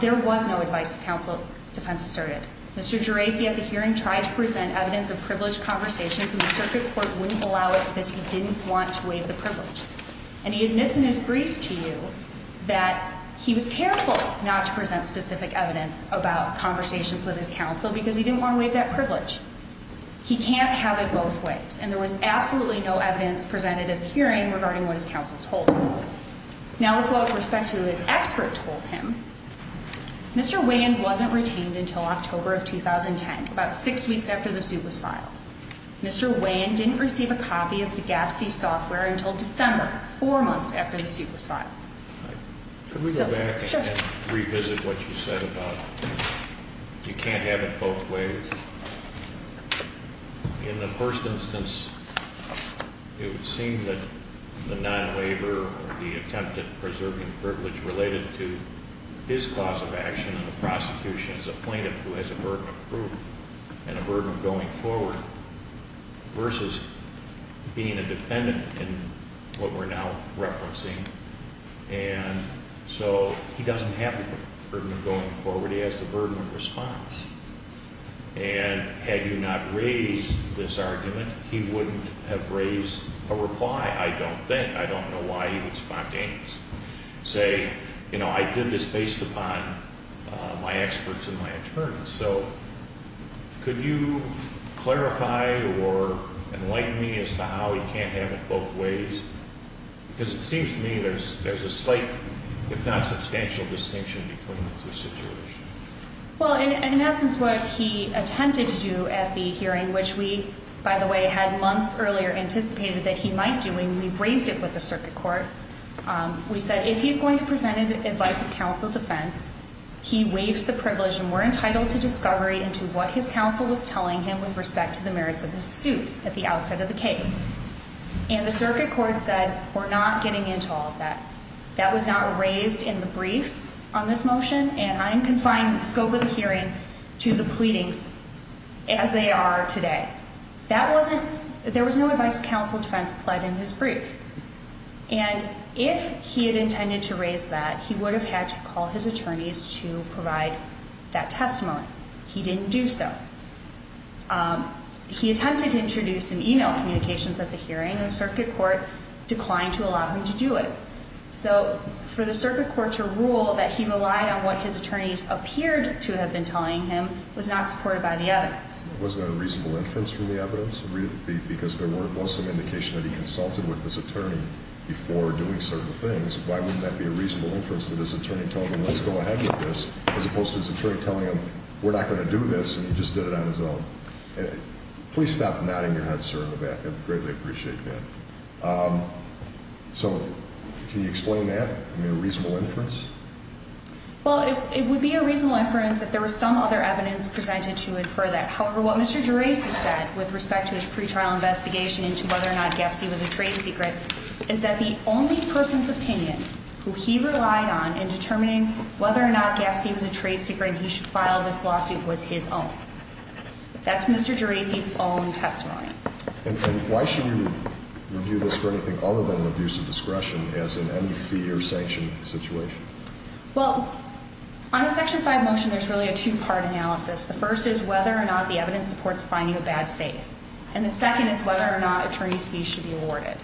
there was no advice of counsel, defense asserted. Mr. Geraci at the hearing tried to present evidence of privileged conversations, and the circuit court wouldn't allow it because he didn't want to waive the privilege. And he admits in his brief to you that he was careful not to present specific evidence about conversations with his counsel because he didn't want to waive that privilege. He can't have it both ways, and there was absolutely no evidence presented at the hearing regarding what his counsel told him. Now, with respect to what his expert told him, Mr. Wayand wasn't retained until October of 2010, about six weeks after the suit was filed. Mr. Wayand didn't receive a copy of the GAPSI software until December, four months after the suit was filed. Could we go back and revisit what you said about you can't have it both ways? In the first instance, it would seem that the non-waiver or the attempt at preserving privilege related to his clause of action in the prosecution as a plaintiff who has a burden of proof and a burden of going forward versus being a defendant in what we're now referencing. And so he doesn't have the burden of going forward. He has the burden of response. And had you not raised this argument, he wouldn't have raised a reply, I don't think. I don't know why he would spontaneously say, you know, I did this based upon my experts and my attorneys. So could you clarify or enlighten me as to how he can't have it both ways? Because it seems to me there's a slight, if not substantial, distinction between the two situations. Well, in essence, what he attempted to do at the hearing, which we, by the way, had months earlier anticipated that he might do when we raised it with the circuit court, we said if he's going to present an advice of counsel defense, he waives the privilege and we're entitled to discovery into what his counsel was telling him with respect to the merits of his suit at the outset of the case. And the circuit court said we're not getting into all of that. That was not raised in the briefs on this motion, and I'm confining the scope of the hearing to the pleadings as they are today. That wasn't, there was no advice of counsel defense pled in his brief. And if he had intended to raise that, he would have had to call his attorneys to provide that testimony. He didn't do so. He attempted to introduce an email communications at the hearing, and the circuit court declined to allow him to do it. So for the circuit court to rule that he relied on what his attorneys appeared to have been telling him was not supported by the evidence. It wasn't a reasonable inference from the evidence? Because there was some indication that he consulted with his attorney before doing certain things. Why wouldn't that be a reasonable inference that his attorney told him, let's go ahead with this, as opposed to his attorney telling him, we're not going to do this, and he just did it on his own? Please stop nodding your head, sir, in the back. I greatly appreciate that. So can you explain that? I mean, a reasonable inference? Well, it would be a reasonable inference if there were some other evidence presented to infer that. However, what Mr. Gerasi said with respect to his pretrial investigation into whether or not Gapsi was a trade secret is that the only person's opinion who he relied on in determining whether or not Gapsi was a trade secret he should file this lawsuit was his own. That's Mr. Gerasi's own testimony. And why should you review this for anything other than abuse of discretion, as in any fee or sanction situation? Well, on the Section 5 motion, there's really a two-part analysis. The first is whether or not the evidence supports finding of bad faith. And the second is whether or not attorney's fees should be awarded.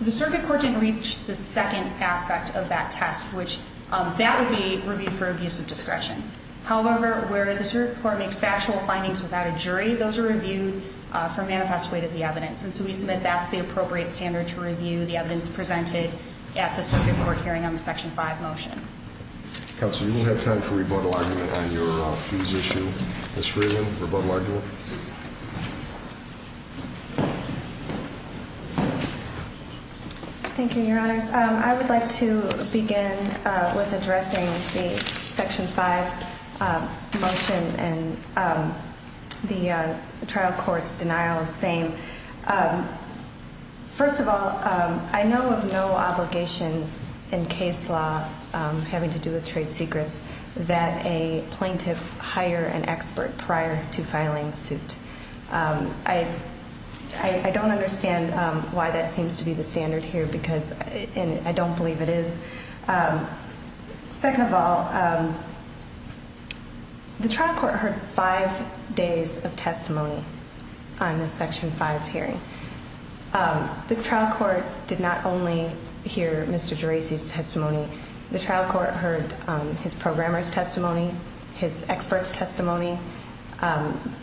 The circuit court didn't reach the second aspect of that test, which that would be reviewed for abuse of discretion. However, where the circuit court makes factual findings without a jury, those are reviewed for manifest weight of the evidence. And so we submit that's the appropriate standard to review the evidence presented at the circuit court hearing on the Section 5 motion. Counsel, you will have time for rebuttal argument on your fees issue. Ms. Freeland, rebuttal argument. Thank you, Your Honors. I would like to begin with addressing the Section 5 motion and the trial court's denial of same. First of all, I know of no obligation in case law having to do with trade secrets that a plaintiff hire an expert prior to filing the suit. I don't understand why that seems to be the standard here, because I don't believe it is. Second of all, the trial court heard five days of testimony on the Section 5 hearing. The trial court did not only hear Mr. Gerasi's testimony. The trial court heard his programmer's testimony, his expert's testimony.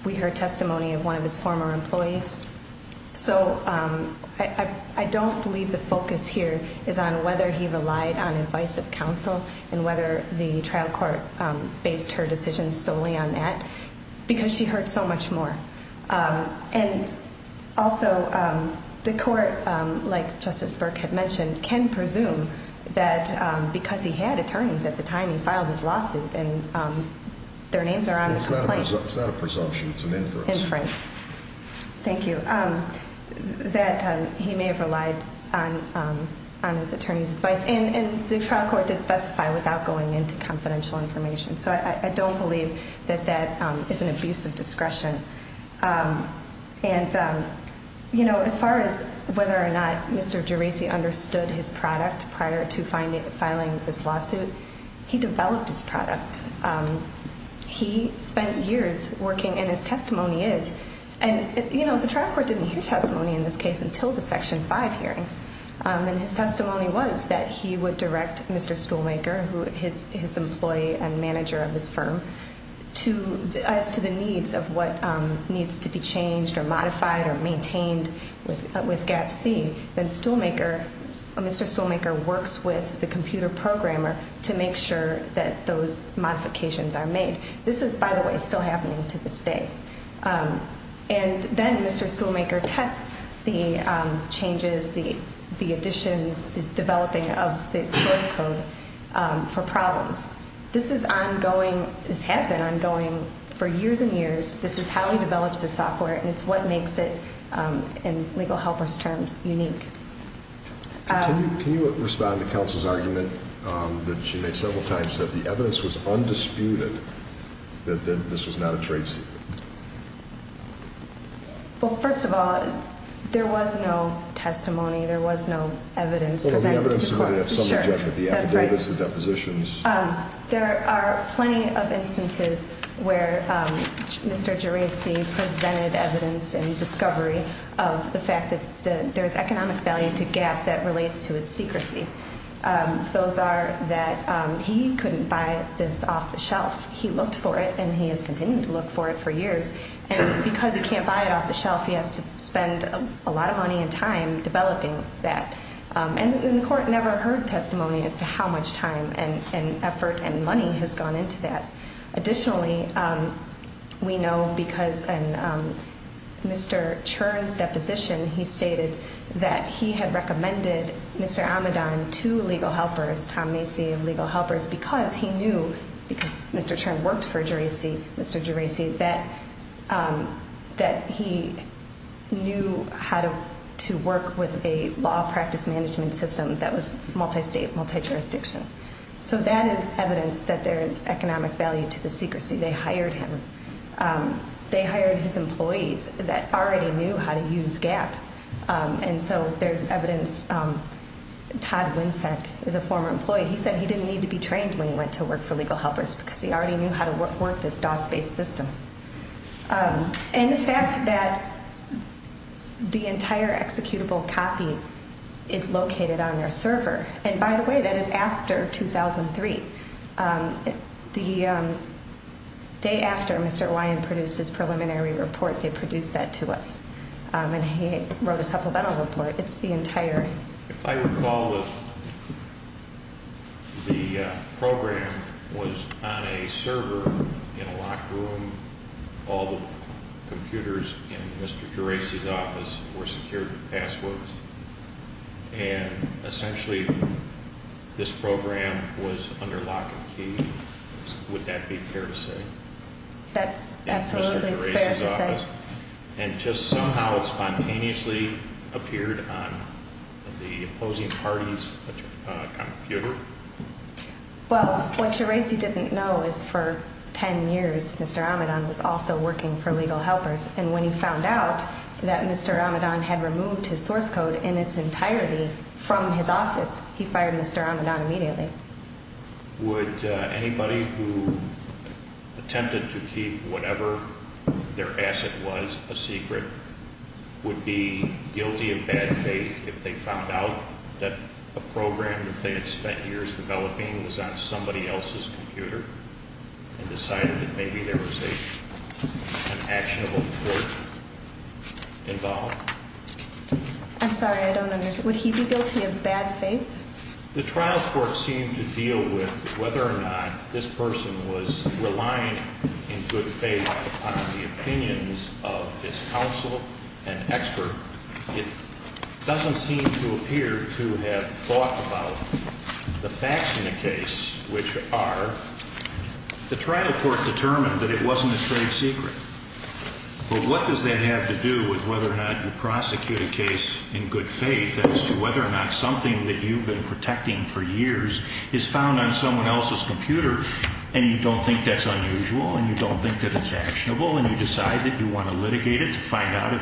We heard testimony of one of his former employees. So I don't believe the focus here is on whether he relied on advice of counsel and whether the trial court based her decision solely on that, because she heard so much more. And also, the court, like Justice Burke had mentioned, can presume that because he had attorneys at the time he filed his lawsuit and their names are on his complaint. It's not a presumption, it's an inference. Inference. Thank you. That he may have relied on his attorney's advice. And the trial court did specify without going into confidential information. So I don't believe that that is an abuse of discretion. And, you know, as far as whether or not Mr. Gerasi understood his product prior to filing this lawsuit, he developed his product. He spent years working, and his testimony is. And, you know, the trial court didn't hear testimony in this case until the Section 5 hearing. And his testimony was that he would direct Mr. Stoolmaker, his employee and manager of this firm, as to the needs of what needs to be changed or modified or maintained with GAPC. Then Stoolmaker, Mr. Stoolmaker works with the computer programmer to make sure that those modifications are made. This is, by the way, still happening to this day. And then Mr. Stoolmaker tests the changes, the additions, the developing of the source code for problems. This is ongoing, this has been ongoing for years and years. This is how he develops his software, and it's what makes it, in legal helpers' terms, unique. Can you respond to counsel's argument that she made several times that the evidence was undisputed, that this was not a trade secret? Well, first of all, there was no testimony, there was no evidence presented to the court. Well, the evidence submitted at some judgment, the affidavits, the depositions. There are plenty of instances where Mr. Geraci presented evidence and discovery of the fact that there's economic value to GAP that relates to its secrecy. Those are that he couldn't buy this off the shelf. He looked for it and he has continued to look for it for years. And because he can't buy it off the shelf, he has to spend a lot of money and time developing that. And the court never heard testimony as to how much time and effort and money has gone into that. Additionally, we know because in Mr. Churn's deposition, he stated that he had recommended Mr. Amidon to legal helpers, Tom Macy of legal helpers, because he knew, because Mr. Churn worked for Mr. Geraci, that he knew how to work with a law practice management system that was multi-state, multi-jurisdiction. So that is evidence that there is economic value to the secrecy. They hired him. They hired his employees that already knew how to use GAP. And so there's evidence. Todd Winsack is a former employee. He said he didn't need to be trained when he went to work for legal helpers because he already knew how to work this DOS-based system. And the fact that the entire executable copy is located on their server, and by the way, that is after 2003, the day after Mr. Ryan produced his preliminary report, they produced that to us, and he wrote a supplemental report. It's the entire... If I recall, the program was on a locked room, all the computers in Mr. Geraci's office were secured with passwords, and essentially this program was under lock and key, would that be fair to say? That's absolutely fair to say. And just somehow it spontaneously appeared on the opposing party's computer? Well, what Geraci didn't know is for 10 years Mr. Amidon was also working for legal helpers, and when he found out that Mr. Amidon had removed his source code in its entirety from his office, he fired Mr. Amidon immediately. Would anybody who attempted to keep whatever their asset was a secret would be guilty of bad faith if they found out that a program that they had spent years developing was on somebody else's computer and decided that maybe there was an actionable report involved? I'm sorry, I don't understand. Would he be guilty of bad faith? The trial court seemed to deal with whether or not this person was relying in good faith on the opinions of this counsel and expert. It doesn't seem to appear to have thought about the facts in the case, which are the trial court determined that it wasn't a trade secret. But what does that have to do with whether or not you prosecute a case in good faith as to whether or not something that you've been protecting for years is found on someone else's computer and you don't think that's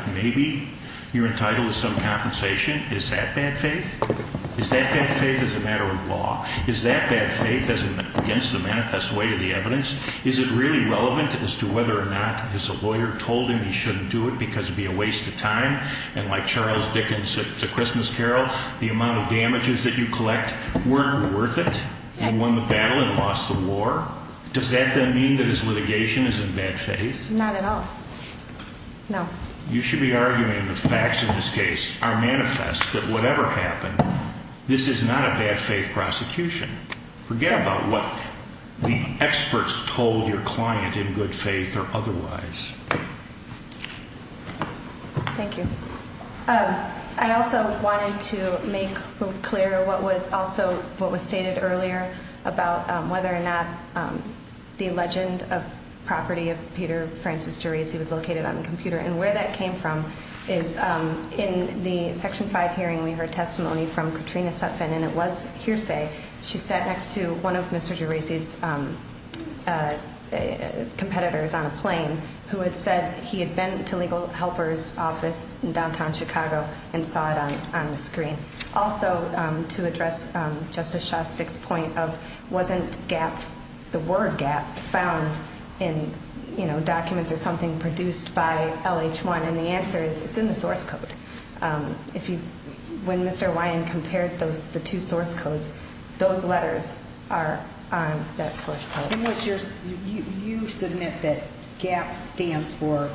maybe you're entitled to some compensation? Is that bad faith? Is that bad faith as a matter of law? Is that bad faith against the manifest way of the evidence? Is it really relevant as to whether or not his lawyer told him he shouldn't do it because it would be a waste of time? And like Charles Dickens' The Christmas Carol, the amount of damages that you collect weren't worth it? He won the battle and lost the war. Does that then mean that his litigation is in bad faith? Not at all. No. You should be arguing the facts in this case are manifest that whatever happened, this is not a bad faith prosecution. Forget about what the experts told your client in good faith or otherwise. Thank you. I also wanted to make clear what was stated earlier about whether or not the legend of property of Peter Francis Geraci was located on the computer and where that came from is in the Section 5 hearing we heard testimony from Katrina Sutphin and it was hearsay. She sat next to one of Mr. Geraci's competitors on a plane who had said he had been to Legal Helper's office in downtown That's not on the screen. Also to address Justice Shostak's point of wasn't GAP, the word GAP found in documents or something produced by LH1 and the answer is it's in the source code. When Mr. Ryan compared the two source codes, those letters are You submit that GAP stands for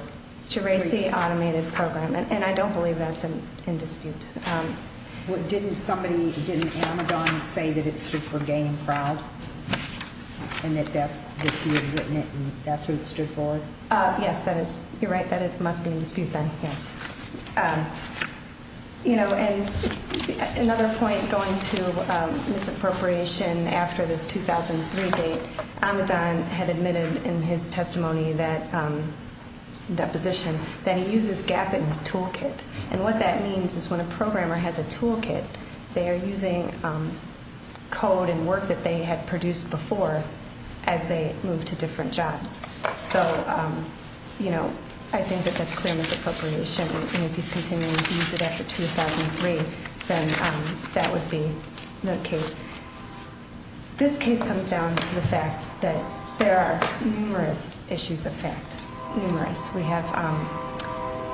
Geraci Automated Program and I don't believe that's in dispute. Didn't somebody, didn't Amidon say that it stood for Gaining Proud and that he had written it and that's what it stood for? Yes, you're right that it must be in dispute then. Another point going to misappropriation after this 2003 date, Amidon had admitted in his testimony that deposition that he uses GAP in his toolkit and what that means is when a programmer has a toolkit they are using code and work that they had produced before as they move to different jobs. So I think that that's clear misappropriation and if he's continuing to use it after 2003 then that would be the case. This case comes down to the fact that there are numerous issues of fact, numerous. We have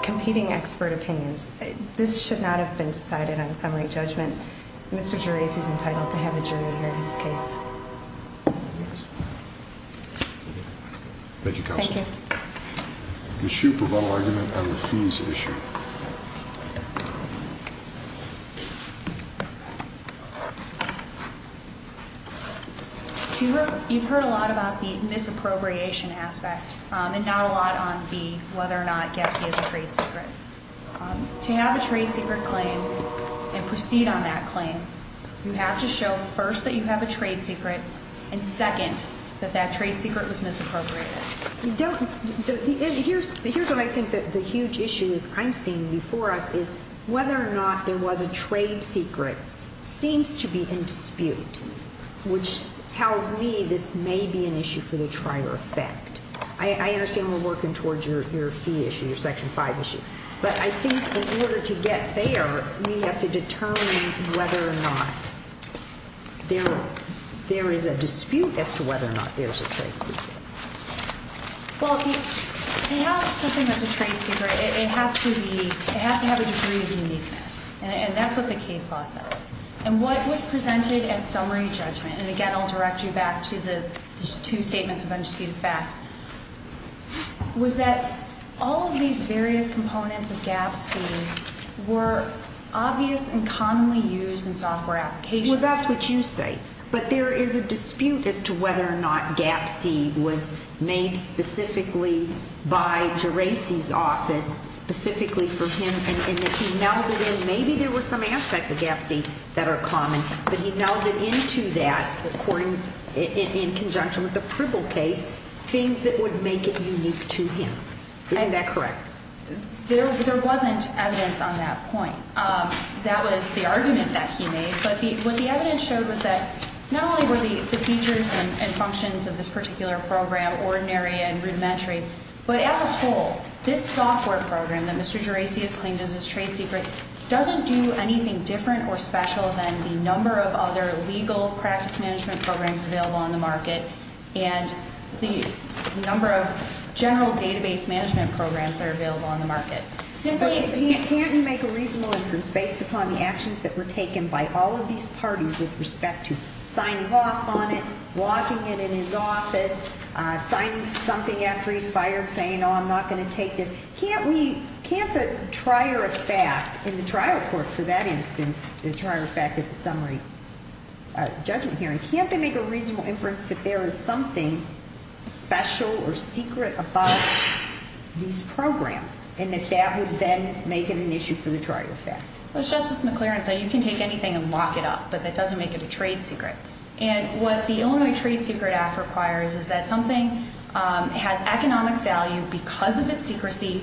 competing expert opinions. This should not have been decided on summary judgment. Mr. Geraci is here. Thank you. Ms. Shoup, rebuttal argument on the fees issue. You've heard a lot about the misappropriation aspect and not a lot on the whether or not Gepsi is a trade secret. To have a trade secret claim and proceed on that that trade secret was misappropriated. Here's what I think the huge issue I'm seeing before us is whether or not there was a trade secret seems to be in dispute, which tells me this may be an issue for the trier effect. I understand we're working towards your fee issue, your Section 5 issue, but I think in order to get there we have to determine whether or not there is a dispute as to whether or not there's a trade secret. Well, to have something that's a trade secret it has to have a degree of uniqueness and that's what the case law says. And what was presented at summary judgment, and again I'll direct you back to the two statements of undisputed facts, was that all of these various components of Gepsi were obvious and commonly used in software applications. Well, that's what you say. But there is a dispute as to whether or not Gepsi was made specifically by Geraci's office specifically for him and that he melded in, maybe there were some aspects of Gepsi that are common, but he melded into that in conjunction with the Pribble case things that would make it unique to him. Isn't that correct? There wasn't evidence on that point. That was the argument that he made, but what the evidence showed was that not only were the features and functions of this particular program ordinary and rudimentary, but as a whole this software program that Mr. Geraci has claimed as his trade secret doesn't do anything different or special than the number of other legal practice management programs available on the market and the number of general database management programs that are available on the market. Simply, can't you make a reasonable inference based upon the actions that were taken by all of these parties with respect to signing off on it, blocking it in his office, signing something after he's fired saying, oh, I'm not going to take this. Can't we, can't the trier of fact in the trial court for that instance, the trier of fact at the summary judgment hearing, can't they make a reasonable inference that there is something special or secret about these programs and that that would then make it an issue for the trier of fact? Well, as Justice McLaren said, you can take anything and lock it up, but that doesn't make it a trade secret. And what the Illinois Trade Secret Act requires is that something has economic value because of its secrecy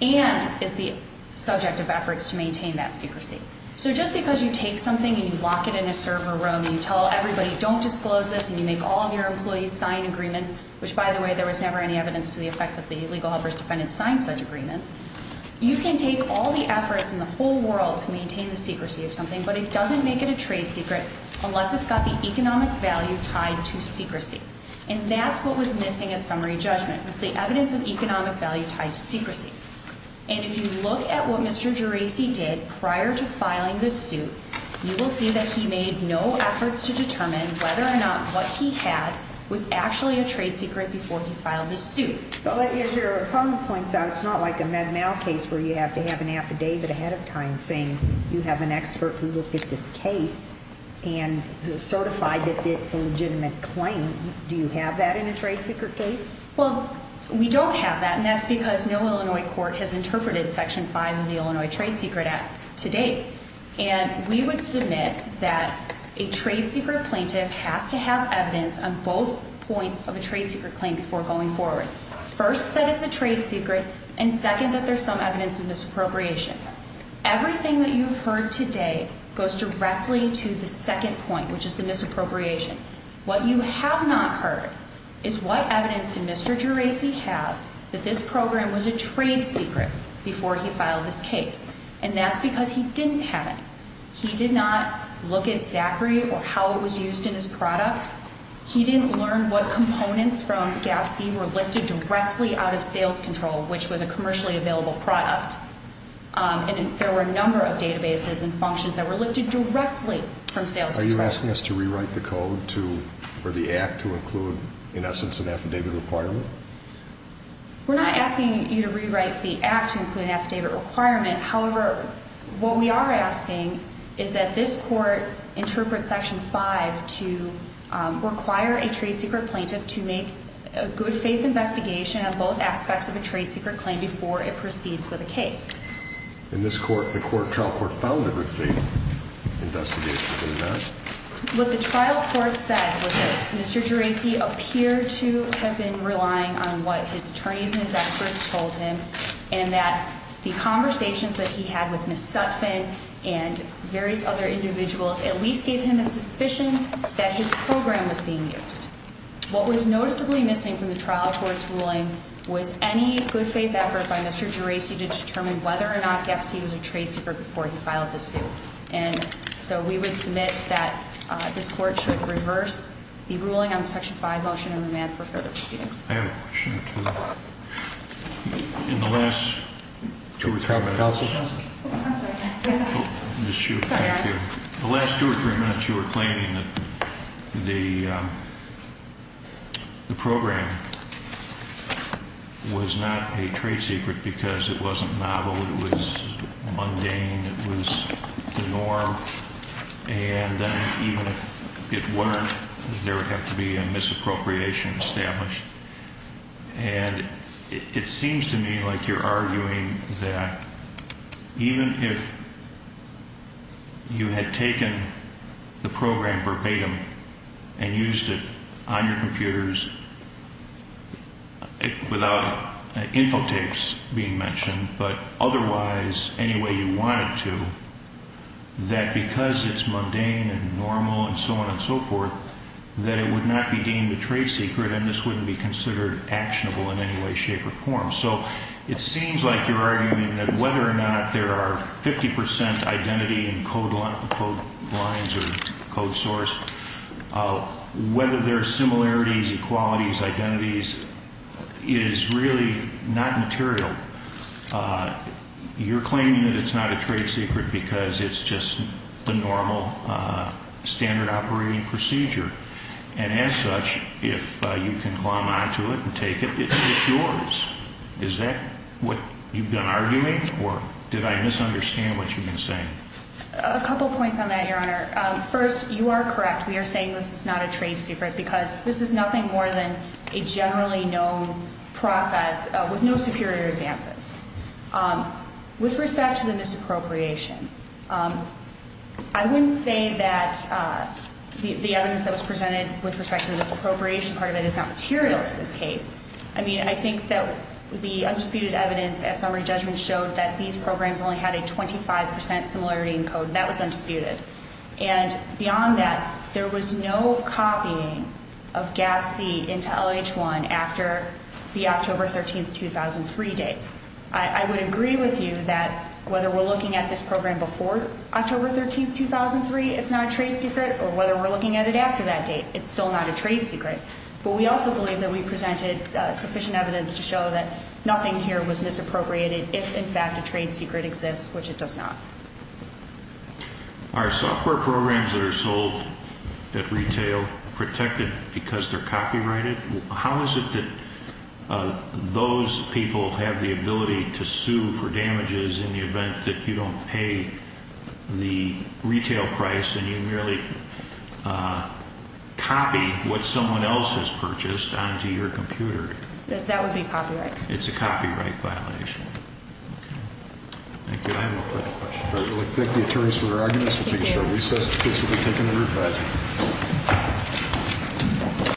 and is the subject of efforts to maintain that secrecy. So just because you take something and you lock it in a server room and you tell everybody don't disclose this and you make all of your employees sign agreements, which by the way, there was never any evidence to the effect that the legal helpers defended signed such agreements. You can take all the efforts in the whole world to maintain the secrecy of something, but it doesn't make it a trade secret unless it's got the evidence of economic value tied to secrecy. And if you look at what Mr. Gerasi did prior to filing this suit, you will see that he made no efforts to determine whether or not what he had was actually a trade secret before he filed this suit. But as your opponent points out, it's not like a Med-Mal case where you have to have an affidavit ahead of time saying you have an expert who looked at this case and certified that it's a legitimate claim. Do you have that in a trade secret case? Well, we don't have that, and that's because no Illinois court has interpreted Section 5 of the Illinois Trade Secret Act to date. And we would submit that a trade secret plaintiff has to have evidence on both points of a trade secret claim before going forward. First, that it's a trade secret, and second, that there's some evidence of misappropriation. Everything that you've heard today goes directly to the second point, which is the misappropriation. What you have not heard is what evidence did Mr. Gerasi have that this program was a trade secret before he filed this case. And that's because he didn't have any. He did not look at Zachary or how it was used in his product. He didn't learn what components from GAFC were lifted directly out of sales control, which was a commercially available product. And there were a number of databases and functions that were lifted directly from sales control. Are you asking us to rewrite the code for the act to include, in essence, an affidavit requirement? We're not asking you to rewrite the act to include an affidavit requirement. However, what we are asking is that this court interpret Section 5 to require a trade secret plaintiff to make a good faith investigation of both aspects of a trade secret claim before it proceeds with a case. And the trial court found a good faith investigation in that? What the trial court said was that Mr. Gerasi appeared to have been relying on what his attorneys and his experts told him, and that the conversations that he had with Ms. Sutphin and various other individuals at least gave him a suspicion that his program was being used. What was noticeably missing from the trial court's ruling was any good faith effort by Mr. Gerasi to determine whether or not GAFC was a trade secret before he filed the suit. And so we would submit that this court should reverse the ruling on the Section 5 motion and demand for further proceedings. I have a question, too. In the last two or three minutes... Counsel. I'm sorry. I'm sorry. The last two or three minutes you were claiming that the program was not a trade secret because it wasn't novel. It was mundane. It was the norm. And then even if it weren't, there would have to be a misappropriation established. And it seems to me like you're arguing that even if you had taken the program verbatim and used it on your computers without infotapes being mentioned, but otherwise any way you wanted to, that because it's mundane and normal and so on and so forth, that it would not be deemed a trade secret and this wouldn't be considered actionable in any way, shape or form. So it seems like you're arguing that whether or not there are 50 percent identity in code lines or code source, is really not material. You're claiming that it's not a trade secret because it's just the normal standard operating procedure. And as such, if you can climb onto it and take it, it's yours. Is that what you've been arguing? Or did I misunderstand what you've been saying? A couple points on that, Your Honor. First, you are correct. We are saying this is not a trade secret because this is nothing more than a generally known process with no superior advances. With respect to the misappropriation, I wouldn't say that the evidence that was presented with respect to the misappropriation part of it is not material to this case. I mean, I think that the undisputed evidence at summary judgment showed that these programs only had a 25 percent similarity in code. That was undisputed. And beyond that, there was no copying of GAPC into LH1 after the October 13, 2003 date. I would agree with you that whether we're looking at this program before October 13, 2003, it's not a trade secret. Or whether we're looking at it after that date, it's still not a trade secret. But we also believe that we presented sufficient evidence to show that nothing here was misappropriated if, in fact, a trade secret exists, which it does not. Are software programs that are sold at retail protected because they're copyrighted? How is it that those people have the ability to sue for damages in the event that you don't pay the retail price and you merely copy what someone else has purchased onto your computer? That would be copyright. It's a copyright violation. Thank you. I have no further questions. I would like to thank the attorneys for their arguments. We'll take a short recess. The case will be taken under revising.